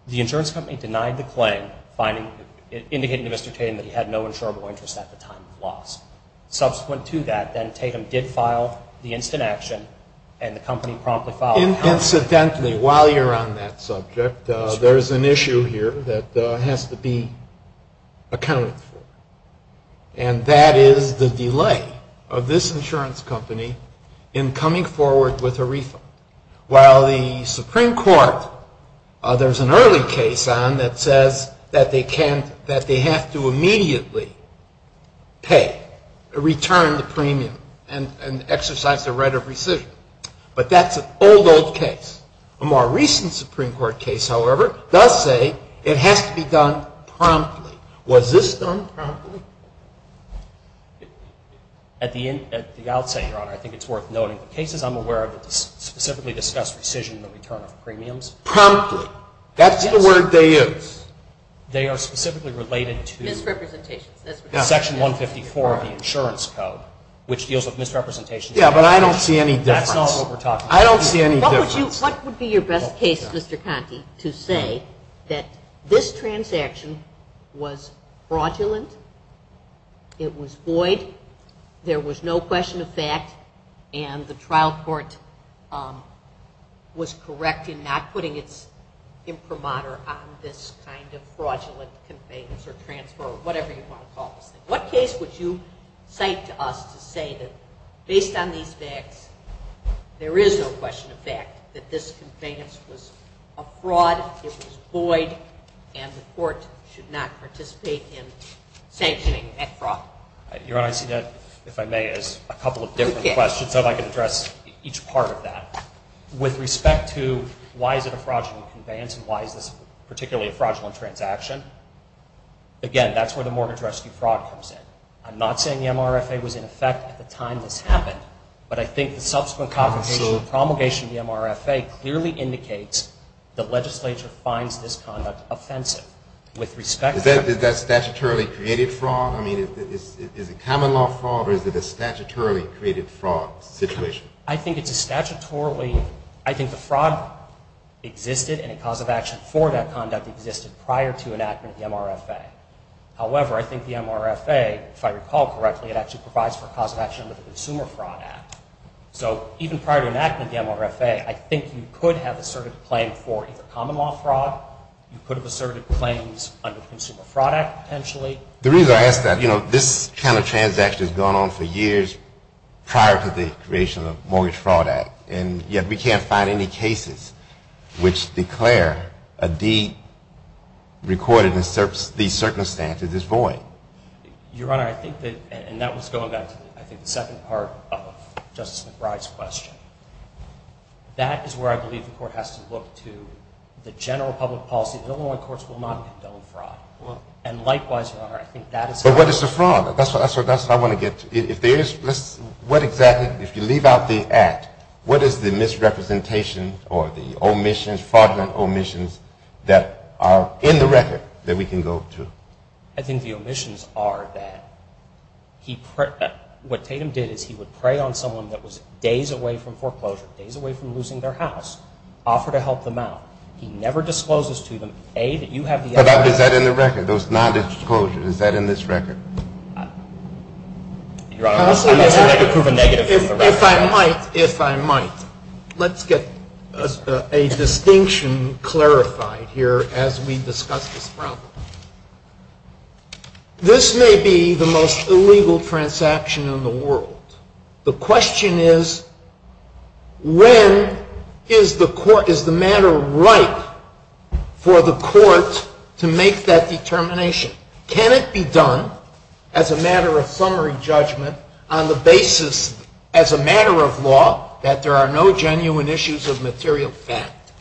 The insurance company denied the claim, indicating to Mr. Tatum that he had no insurable interest at the time of the loss. Subsequent to that, then, Tatum did file the instant action, and the company promptly filed. Incidentally, while you're on that subject, there is an issue here that has to be accounted for, and that is the delay of this insurance company in coming forward with a refund. While the Supreme Court, there's an early case on that says that they have to immediately pay, return the premium, and exercise the right of rescission. But that's an old, old case. A more recent Supreme Court case, however, does say it has to be done promptly. Was this done promptly? At the outset, Your Honor, I think it's worth noting, the cases I'm aware of specifically discuss rescission and return of premiums. Promptly. That's the word they use. They are specifically related to section 154 of the insurance code, which deals with misrepresentation. Yeah, but I don't see any difference. I don't see any difference. What would be your best case, Mr. Conte, to say that this transaction was fraudulent, it was void, there was no question of fact, and the trial court was correct in not putting its imprimatur on this kind of fraudulent conveyance or transfer or whatever you want to call it? What case would you cite to us to say that, based on these facts, there is no question of fact that this conveyance was a fraud, it was void, and the court should not participate in sanctioning that fraud? Your Honor, I see that, if I may, as a couple of different questions. I'd like to address each part of that. With respect to why is it a fraudulent conveyance and why is this particularly a fraudulent transaction, again, that's where the mortgage rescue fraud comes in. I'm not saying the MRFA was in effect at the time this happened, but I think the subsequent confirmation of the MRFA clearly indicates that legislature finds this conduct offensive. With respect to... Is that statutorily created fraud? I mean, is it common law fraud or is it a statutorily created fraud situation? I think it's a statutorily, I think the fraud existed and a cause of action for that conduct existed prior to enactment of the MRFA. However, I think the MRFA, if I recall correctly, it actually provides for a cause of action under the Consumer Fraud Act. So, even prior to enactment of the MRFA, I think you could have asserted a claim for either common law fraud, you could have asserted claims under the Consumer Fraud Act, potentially. The reason I ask that, you know, this kind of transaction has gone on for years prior to the creation of the Mortgage Fraud Act, and yet we can't find any cases which declare a derecorded in these circumstances is void. Your Honor, I think that, and that was going to, I think, the second part of Justice McBride's question. That is where I believe the court has to look to the general public policy. The Illinois courts will not have done fraud. And likewise, Your Honor, I think that is... But what is the fraud? That's what I want to get to. What exactly, if you leave out the act, what is the misrepresentation or the omissions, fraudulent omissions that are in the record that we can go to? I think the omissions are that what Tatum did is he would prey on someone that was days away from foreclosure, days away from losing their house, offer to help them out. He never discloses to them, A, that you have... But is that in the record? It was not disclosed. Is that in this record? Your Honor, I'd like to prove a negative. If I might, if I might, let's get a distinction clarified here as we discuss the problem. This may be the most illegal transaction in the world. The question is, when is the matter right for the court to make that determination? Can it be done as a matter of summary judgment on the basis, as a matter of law, that there are no genuine issues of material fact?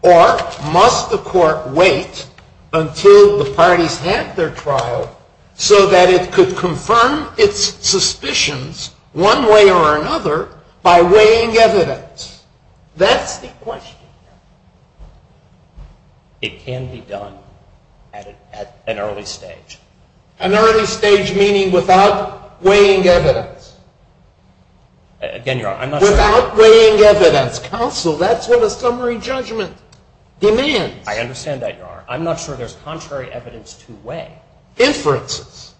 Or must the court wait until the parties have their trial so that it could confirm its suspicions, one way or another, by weighing evidence? That's the question. It can be done at an early stage. An early stage meaning without weighing evidence. Again, Your Honor, I'm not... Without weighing evidence. Counsel, that's what a summary judgment demands. I understand that, Your Honor. I'm not sure there's contrary evidence to weigh. Inferences.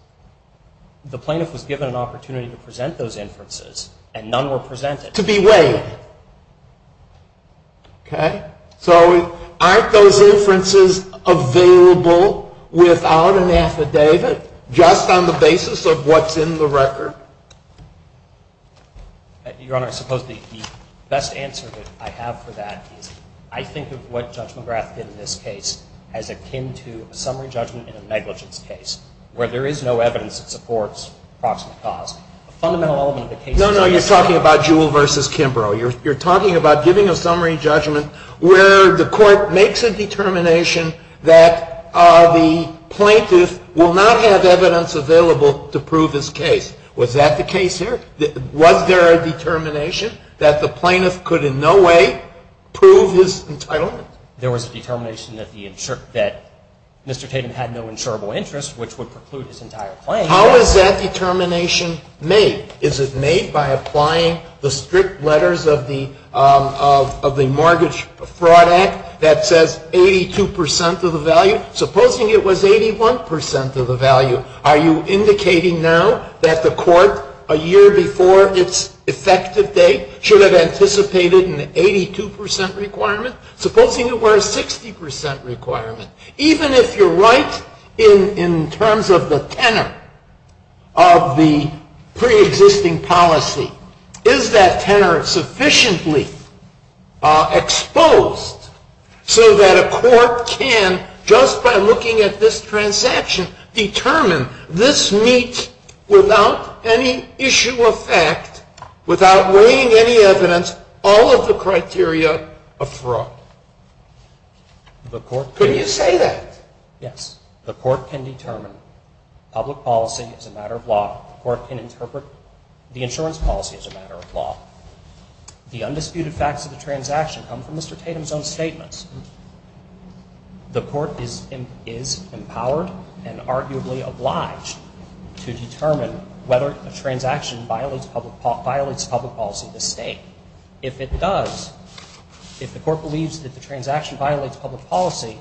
The plaintiff was given an opportunity to present those inferences, and none were presented. To be weighed. Okay? So aren't those inferences available without an affidavit, just on the basis of what's in the record? Your Honor, the best answer I have for that is I think of what Judge McGrath did in this case as akin to a summary judgment in a negligence case, where there is no evidence that supports the cause. No, no. You're talking about Jewell v. Kimbrough. You're talking about giving a summary judgment where the court makes a determination that the plaintiff will not have evidence available to prove this case Was that the case here? Was there a determination that the plaintiff could in no way prove his entitlement? There was a determination that Mr. Kidd had no insurable interest, which would preclude his entire claim. How is that determination made? Is it made by applying the strict letters of the Mortgage Fraud Act that says 82% of the value? Supposing it was 81% of the value, are you indicating now that the court, a year before its effective date, should have anticipated an 82% requirement, supposing it were a 60% requirement? Even if you're right in terms of the tenor of the preexisting policy, is that tenor sufficiently exposed so that a court can, just by looking at this transaction, determine this meets without any issue of fact, without bringing any evidence, all of the criteria of fraud? Could you say that? Yes. The court can determine. Public policy is a matter of law. The court can interpret the insurance policy as a matter of law. The undisputed facts of the transaction come from Mr. Tatum's own statements. The court is empowered and arguably obliged to determine whether a transaction violates public policy of the state. If it does, if the court believes that the transaction violates public policy,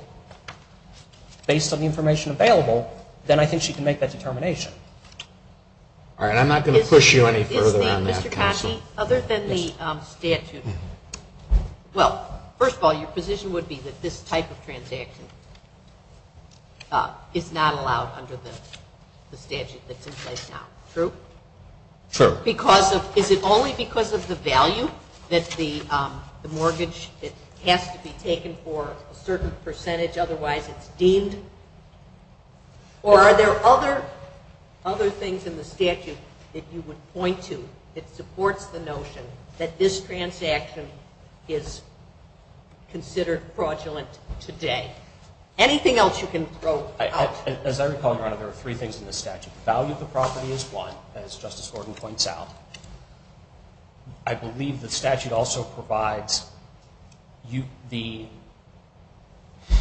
based on the information available, then I think she can make that determination. All right. I'm not going to push you any further on that, Counsel. Other than the statute, well, first of all, your position would be that this type of transaction is not allowed under the statute that's in place now. True? True. Is it only because of the value that the mortgage has to be taken for a certain percentage, otherwise it's deemed? Or are there other things in the statute that you would point to that support the notion that this transaction is considered fraudulent today? Anything else you can throw? As I recall, there are three things in the statute. The value of the property is one, as Justice Gordon points out. I believe the statute also provides the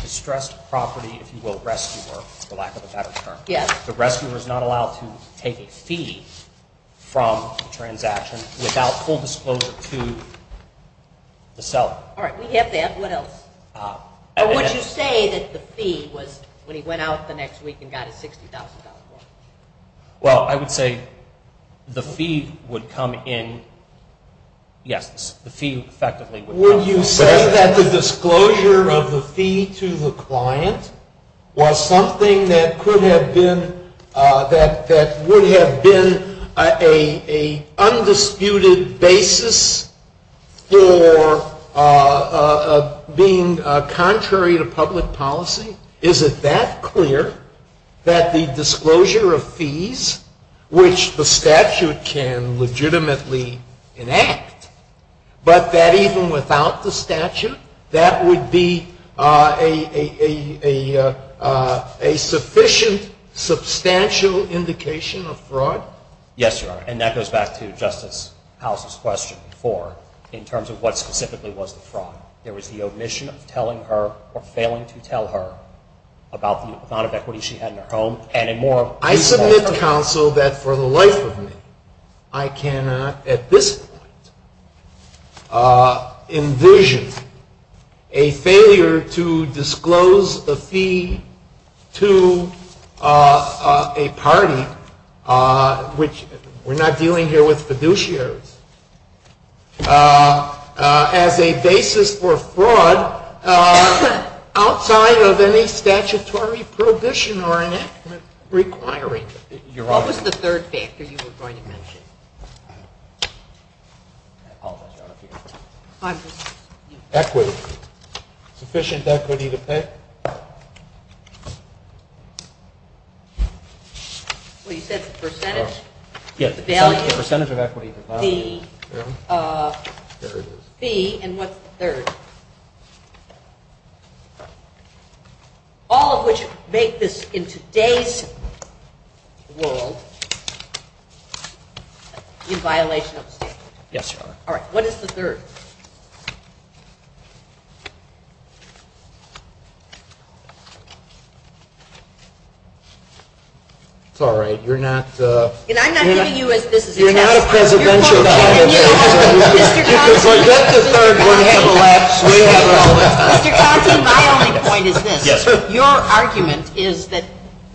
distressed property, if you will, rescuer, for lack of a better term. Yes. The rescuer is not allowed to take a fee from a transaction without full disclosure to the seller. All right. We get that. What else? Would you say that the fee was when he went out the next week and got a $60,000 loan? Well, I would say the fee would come in, yes, the fee effectively would come in. Would you say that the disclosure of the fee to the client was something that could have been, that would have been an undisputed basis for being contrary to public policy? Is it that clear that the disclosure of fees, which the statute can legitimately enact, but that even without the statute, that would be a sufficient substantial indication of fraud? Yes, Your Honor, and that goes back to Justice House's question before in terms of what specifically was the fraud. There was the omission of telling her, or failing to tell her, about the amount of equity she had in her home, and in more detail. I submit, counsel, that for the life of me, I cannot at this point envision a failure to disclose a fee to a party, which we're not dealing here with fiduciaries, as a basis for fraud outside of any statutory provision or enactment requiring it. What was the third factor you were going to mention? I apologize, Your Honor. Equity. Sufficient equity to pay? Well, you said percentage? Yes, the percentage of equity. The fee, and what's the third? All of which make this, in today's world, in violation of the statute. Yes, Your Honor. All right, what is the third? Sorry, you're not a presidential candidate. We're just a third party. My only point is this. Your argument is that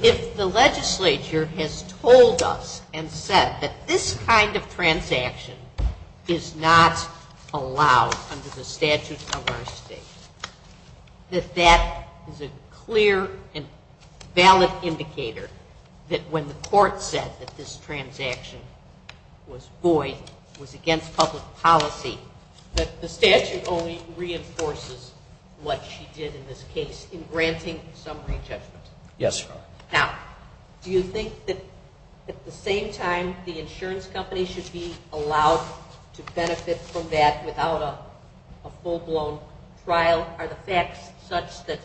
if the legislature has told us and said that this kind of transaction is not allowed under the statute of our state, that that is a clear and valid indicator that when the court said that this transaction was void, was against public policy, that the statute only reinforces what she did in this case in granting summary judgment. Yes, Your Honor. Now, do you think that at the same time the insurance company should be allowed to benefit from that without a full-blown trial? Are the facts such that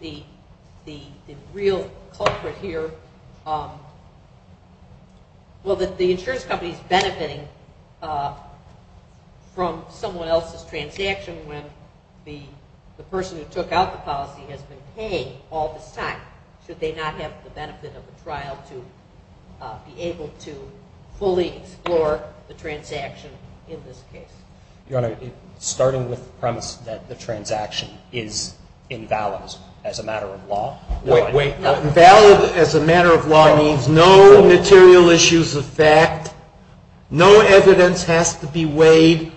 the real culprit here, well, that the insurance company is benefiting from someone else's transaction even when the person who took out the policy has been paid all this time, should they not have the benefit of a trial to be able to fully explore the transaction in this case? Your Honor, starting with the premise that the transaction is in balance as a matter of law. Wait, wait. In balance as a matter of law means no material issues of fact, no evidence has to be weighed,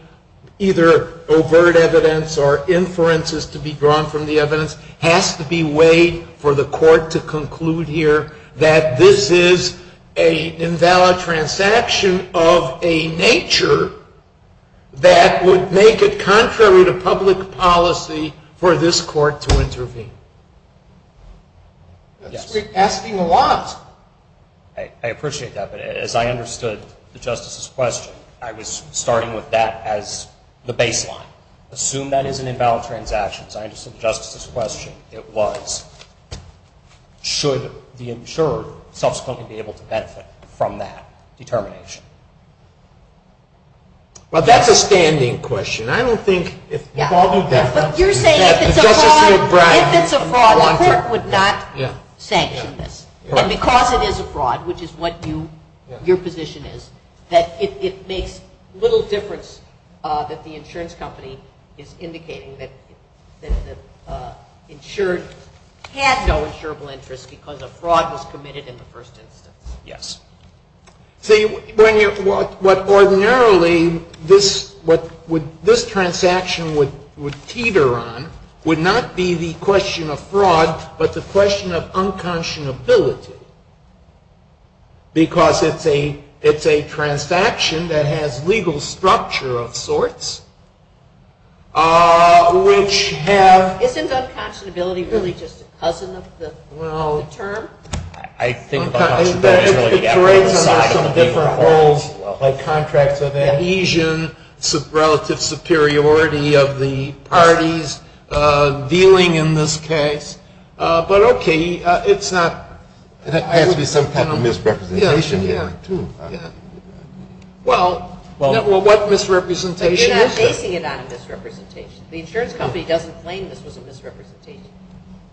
either overt evidence or inferences to be drawn from the evidence, has to be weighed for the court to conclude here that this is an invalid transaction of a nature that would make it contrary to public policy for this court to intervene. You're asking a lot. I appreciate that, but as I understood the Justice's question, I was starting with that as the baseline. Assume that is an invalid transaction. So I understood the Justice's question. It was, should the insurer subsequently be able to benefit from that determination? Well, that's a standing question. I don't think it's probably that. You're saying if it's a fraud, the court would not sanction this. And because it is a fraud, which is what your position is, that it makes little difference that the insurance company is indicating that the insurance had no insurable interest because a fraud was committed in the first instance. Yes. See, what ordinarily this transaction would teeter on would not be the question of fraud, but the question of unconscionability. Because it's a transaction that has legal structure of sorts, which has… Isn't unconscionability really just a cousin of the term? I think… It's a transaction of some different roles, contracts of adhesion, relative superiority of the parties, dealing in this case. But okay, it's not… It's a misrepresentation. Yeah, yeah. Well, what misrepresentation is that? I'm not making it out of misrepresentation. The insurance company doesn't claim this is a misrepresentation.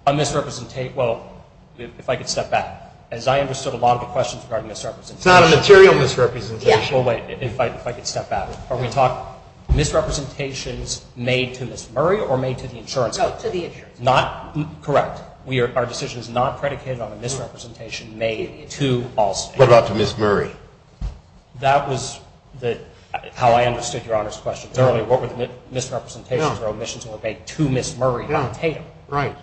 A misrepresentation. Well, if I could step back. As I understood a lot of the questions regarding misrepresentation… It's not a material misrepresentation. Well, wait, if I could step back. Are we talking misrepresentations made to Ms. Murray or made to the insurance company? No, to the insurance company. Not… Correct. Our decision is not predicated on a misrepresentation made to Allstate. What about to Ms. Murray? That was how I understood Your Honor's question earlier. What would misrepresentations or omissions look like to Ms. Murray on paper? Right.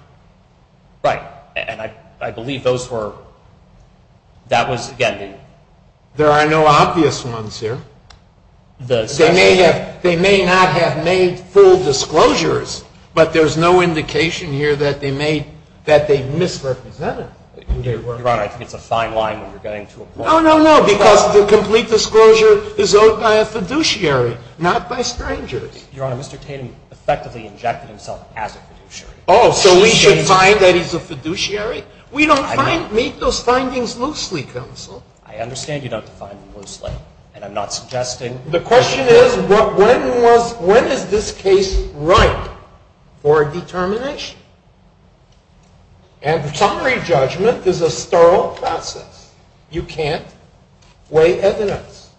Right. And I believe those were… That was, again… There are no obvious ones here. They may not have made full disclosures, but there's no indication here that they misrepresented. Your Honor, I think it's a fine line that we're getting to. No, no, no. Because the complete disclosure is owed by a fiduciary, not by strangers. Your Honor, Mr. Tatum effectively injected himself as a fiduciary. Oh, so we should find that he's a fiduciary? We don't make those findings loosely, counsel. I understand you don't define them loosely, and I'm not suggesting… The question is, when is this case ripe for determination? And summary judgment is a thorough process. You can't weigh evidence.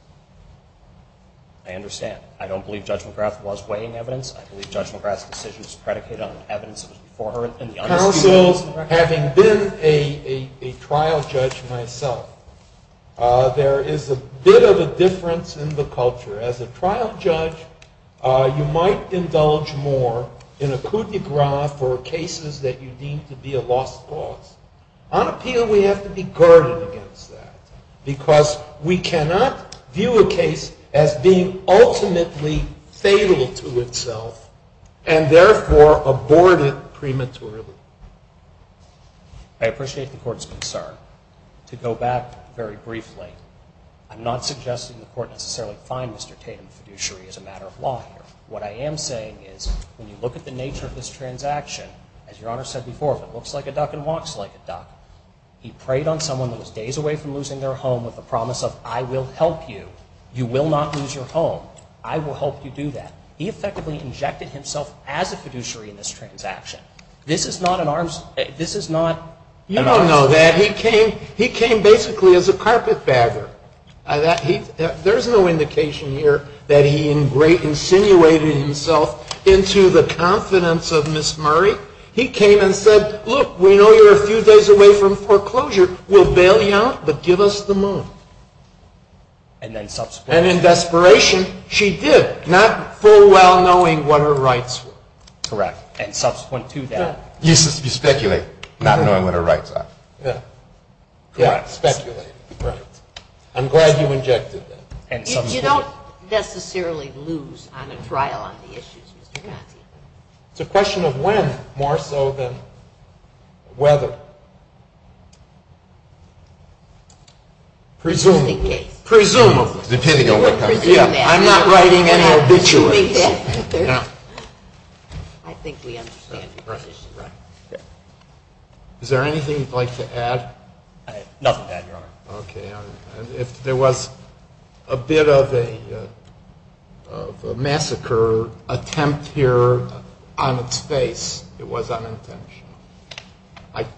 I understand. I don't believe Judge McGrath was weighing evidence. I believe Judge McGrath's decision was predicated on the evidence before her. Counsel, having been a trial judge myself, there is a bit of a difference in the culture. As a trial judge, you might indulge more in a coup de grace or cases that you deem to be a lost cause. I don't feel we have to be guarded against that, because we cannot view a case as being ultimately fatal to itself and therefore abort it prematurely. I appreciate the Court's concern. To go back very briefly, I'm not suggesting the Court necessarily find Mr. Tatum a fiduciary as a matter of law here. What I am saying is, when you look at the nature of this transaction, as Your Honor said before, it looks like a duck and walks like a duck. He preyed on someone who was days away from losing their home with the promise of, I will help you. You will not lose your home. I will help you do that. He effectively injected himself as a fiduciary in this transaction. This is not an arms race. This is not… You don't know that. He came basically as a carpetbagger. There is no indication here that he insinuated himself into the confidence of Ms. Murray. He came and said, look, we know you're a few days away from foreclosure. We'll bail you out, but give us the money. And in desperation, she did, not full well knowing what her rights were. Correct. And subsequent to that… You speculate, not knowing what her rights are. Correct. Speculate. I'm glad you injected it. You don't necessarily lose on a trial on the issues. It's a question of when more so than whether. Presumably. Presumably. Presumably. I'm not writing any obituary. I think we understand. Nothing to add, Your Honor. If there was a bit of a massacre attempt here on its face, it was unintentional.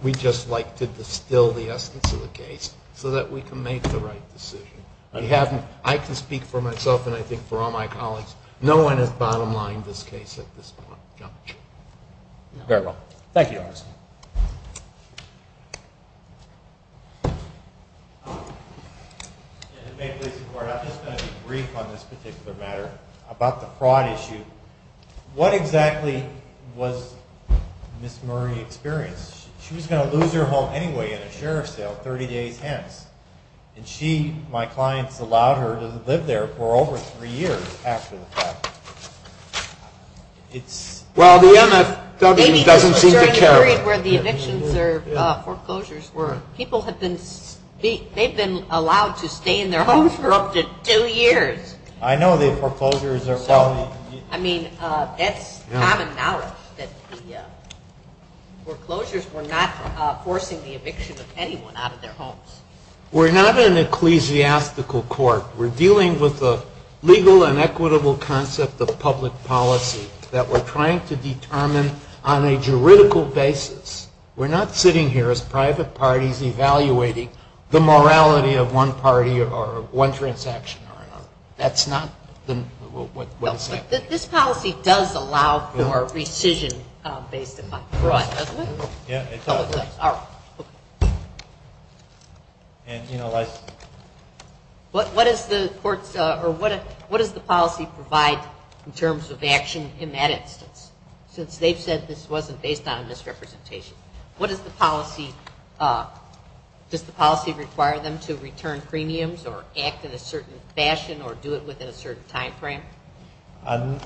We just like to distill the aspects of the case so that we can make the right decision. I can speak for myself and I think for all my colleagues. No one has bottom-lined this case at this point. Thank you, Your Honor. I just want to brief on this particular matter about the fraud issue. What exactly was Ms. Murray experiencing? She was going to lose her home anyway in a sheriff's jail, 30 to 810. And she, my client, allowed her to live there for over three years after the fact. Well, the MSW doesn't seem to care. Ms. Murray, where the evictions or foreclosures were, people have been, they've been allowed to stay in their homes for up to two years. I know the foreclosures are tough. I mean, that's common knowledge, that the foreclosures were not forcing the eviction of anyone out of their homes. We're not an ecclesiastical court. We're dealing with a legal and equitable concept of public policy that we're trying to determine on a juridical basis. We're not sitting here as private parties evaluating the morality of one party or one transaction. That's not what the statute says. This policy does allow for rescission based upon fraud, doesn't it? Yeah, it does. All right. And, you know, like... What does the court, or what does the policy provide in terms of action in that instance? Since they said this wasn't based on misrepresentation. What does the policy, does the policy require them to return premiums or act in a certain fashion or do it within a certain time frame? Not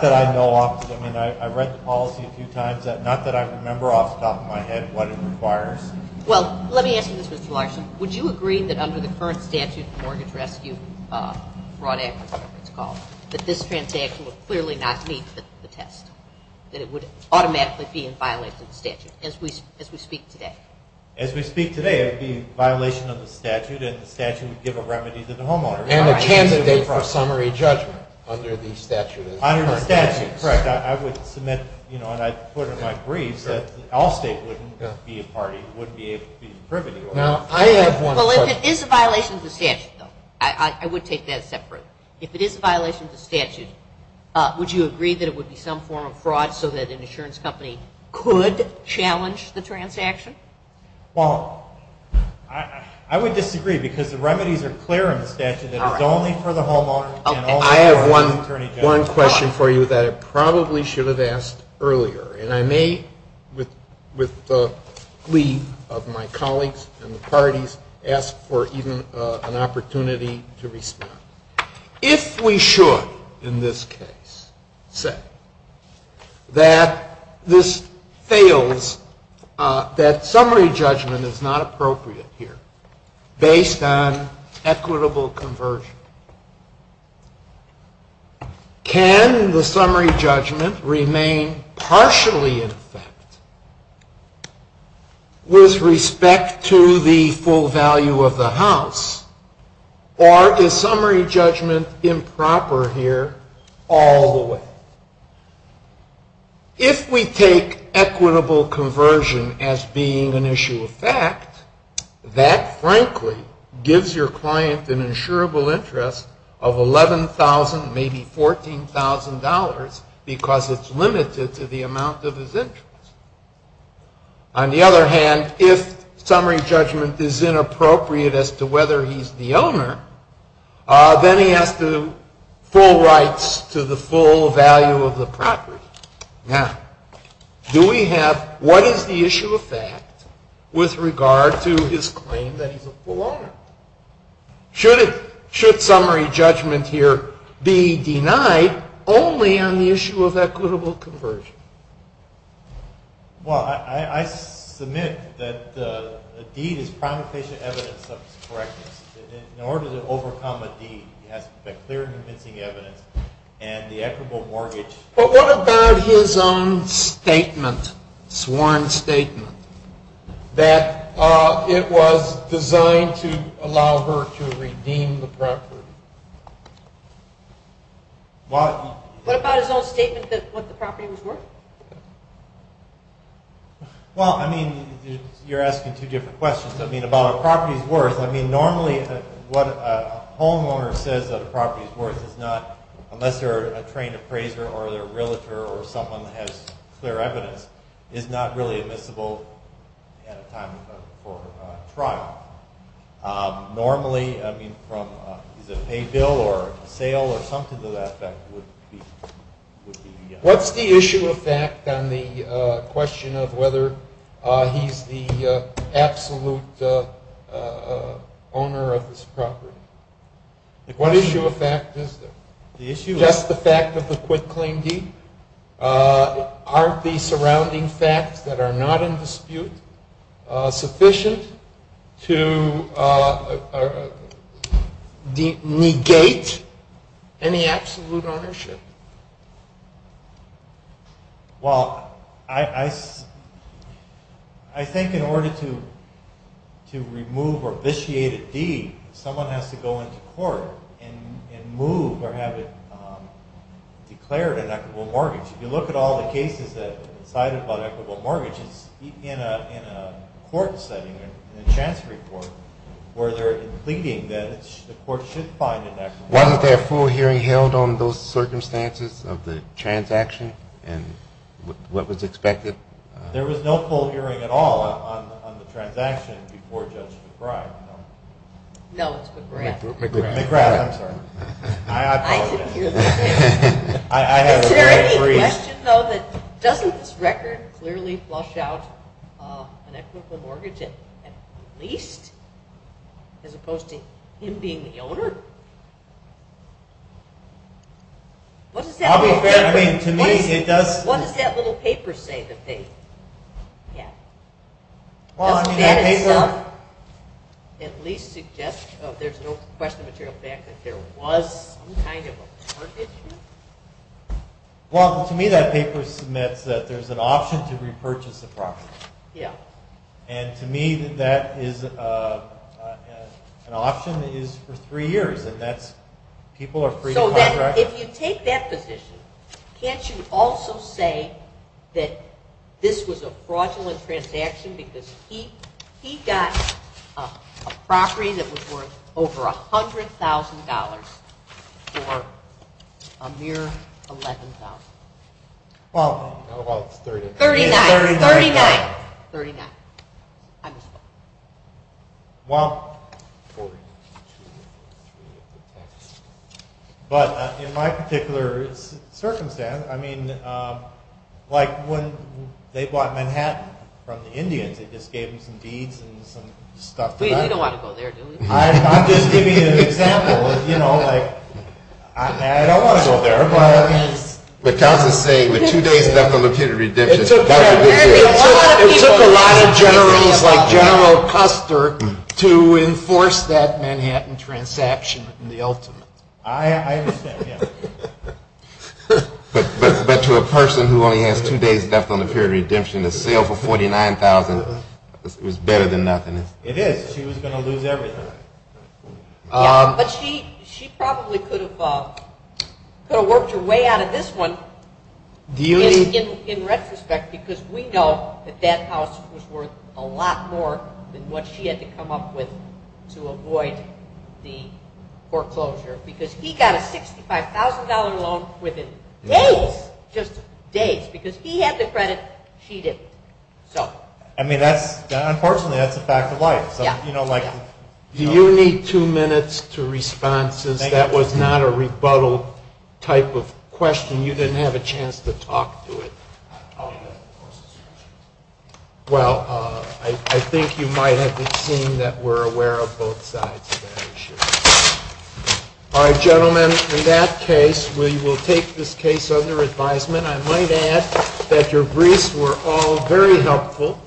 that I know of. I mean, I've read the policy a few times. Not that I remember off the top of my head what it requires. Well, let me ask you this, Mr. Larson. Would you agree that under the current statute of mortgage rescue fraud act, as it's called, that this transaction would clearly not meet the test, that it would automatically be in violation of the statute as we speak today? As we speak today, it would be in violation of the statute, and the statute would give a remedy to the homeowner. And a candidate for a summary judgment under the statute. Under the statute, correct. I would submit, you know, and I've put it in my briefs, that all states wouldn't be a party that would be able to use the premium. Well, if it is a violation of the statute, though, I would take that as separate. If it is a violation of the statute, would you agree that it would be some form of fraud so that an insurance company could challenge the transaction? I have one question for you that I probably should have asked earlier. And I may, with the plea of my colleagues and the parties, ask for even an opportunity to respond. If we should, in this case, say that this fails, that summary judgment is not appropriate here based on equitable conversion, can the summary judgment remain partially in effect with respect to the full value of the house, or is summary judgment improper here all the way? If we take equitable conversion as being an issue of fact, that frankly gives your client an insurable interest of $11,000, maybe $14,000, because it's limited to the amount of his interest. On the other hand, if summary judgment is inappropriate as to whether he's the owner, then he has the full rights to the full value of the property. Now, do we have, what is the issue of fact with regard to his claim that he's the owner? Should summary judgment here be denied only on the issue of equitable conversion? Well, I submit that the deed is primary case evidence of the correctness. In order to overcome a deed, you have to expect clear and convincing evidence and the equitable mortgage. But what about his own statement, sworn statement, that it was designed to allow her to redeem the property? What about his own statement that the property was worth? Well, I mean, you're asking two different questions. I mean, about the property's worth, I mean, normally what a homeowner says the property's worth is not, unless you're a trained appraiser or a realtor or someone who has clear evidence, it's not really admissible at a time before a trial. Normally, I mean, from the pay bill or sale or something to that effect, it would be denied. What's the issue of fact on the question of whether he's the absolute owner of this property? What issue of fact is there? The issue of fact is the fact that the quitclaim deeds aren't the surrounding facts that are not in dispute sufficient to negate any absolute ownership. Well, I think in order to remove or vitiate a deed, someone has to go into court and move or have it declared an equitable mortgage. If you look at all the cases that cited about equitable mortgages, even in a court setting, in a chance report, where they're pleading that the court should find the next one. Wasn't there a full hearing held on those circumstances of the transaction and what was expected? There was no full hearing at all on the transaction before Judge McBride. No, it was McBride. McBride, I'm sorry. I apologize. Is there any suggestion, though, that Justice Brekker clearly flushed out an equitable mortgage at least as opposed to him being the owner? What does that little paper say that they had? Well, I mean, that paper... Does that at least suggest, there's no question, but there's a fact that there was some kind of a purchase? Well, to me, that paper submits that there's an option to repurchase the property. Yeah. And to me, that is, an option is for three years, and that's, people are free to contract. If you take that position, can't you also say that this was a fraudulent transaction because he got a property that was worth over $100,000 for a mere $11,000? Well, about $30,000. $39,000. $39,000. $39,000. I'm sorry. Well, but in my particular circumstance, I mean, like, when they bought Manhattan from the Indians, they just gave me some deeds and some stuff. Wait, you don't want to go there, do you? I'm just giving you an example. You know, like, I don't want to go there, but... But Justice Brekker, two days after the fiduciary session... It took a lot of generals like General Custer to enforce that Manhattan transaction in the ultimate. I understand, yeah. But to a person who only has two days left on the period of redemption, the sale for $49,000 was better than nothing. It is. She was going to lose everything. Yeah, but she probably could have worked her way out of this one, in retrospect, because we know that that house was worth a lot more than what she had to come up with to avoid the foreclosure. Because he got a $65,000 loan within days, just days. Because he had the credit, she didn't. I mean, unfortunately, that's a fact of life. Do you need two minutes to respond to this? That was not a rebuttal type of question. You didn't have a chance to talk to it. Well, I think you might have the team that were aware of both sides. All right, gentlemen, in that case, we will take this case under advisement. I might add that your briefs were all very helpful,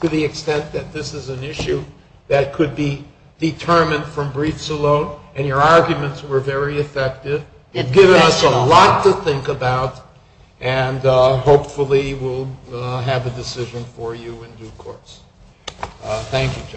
to the extent that this is an issue that could be determined from briefs alone, and your arguments were very effective. They've given us a lot to think about, and hopefully we'll have a decision for you in due course. Thank you.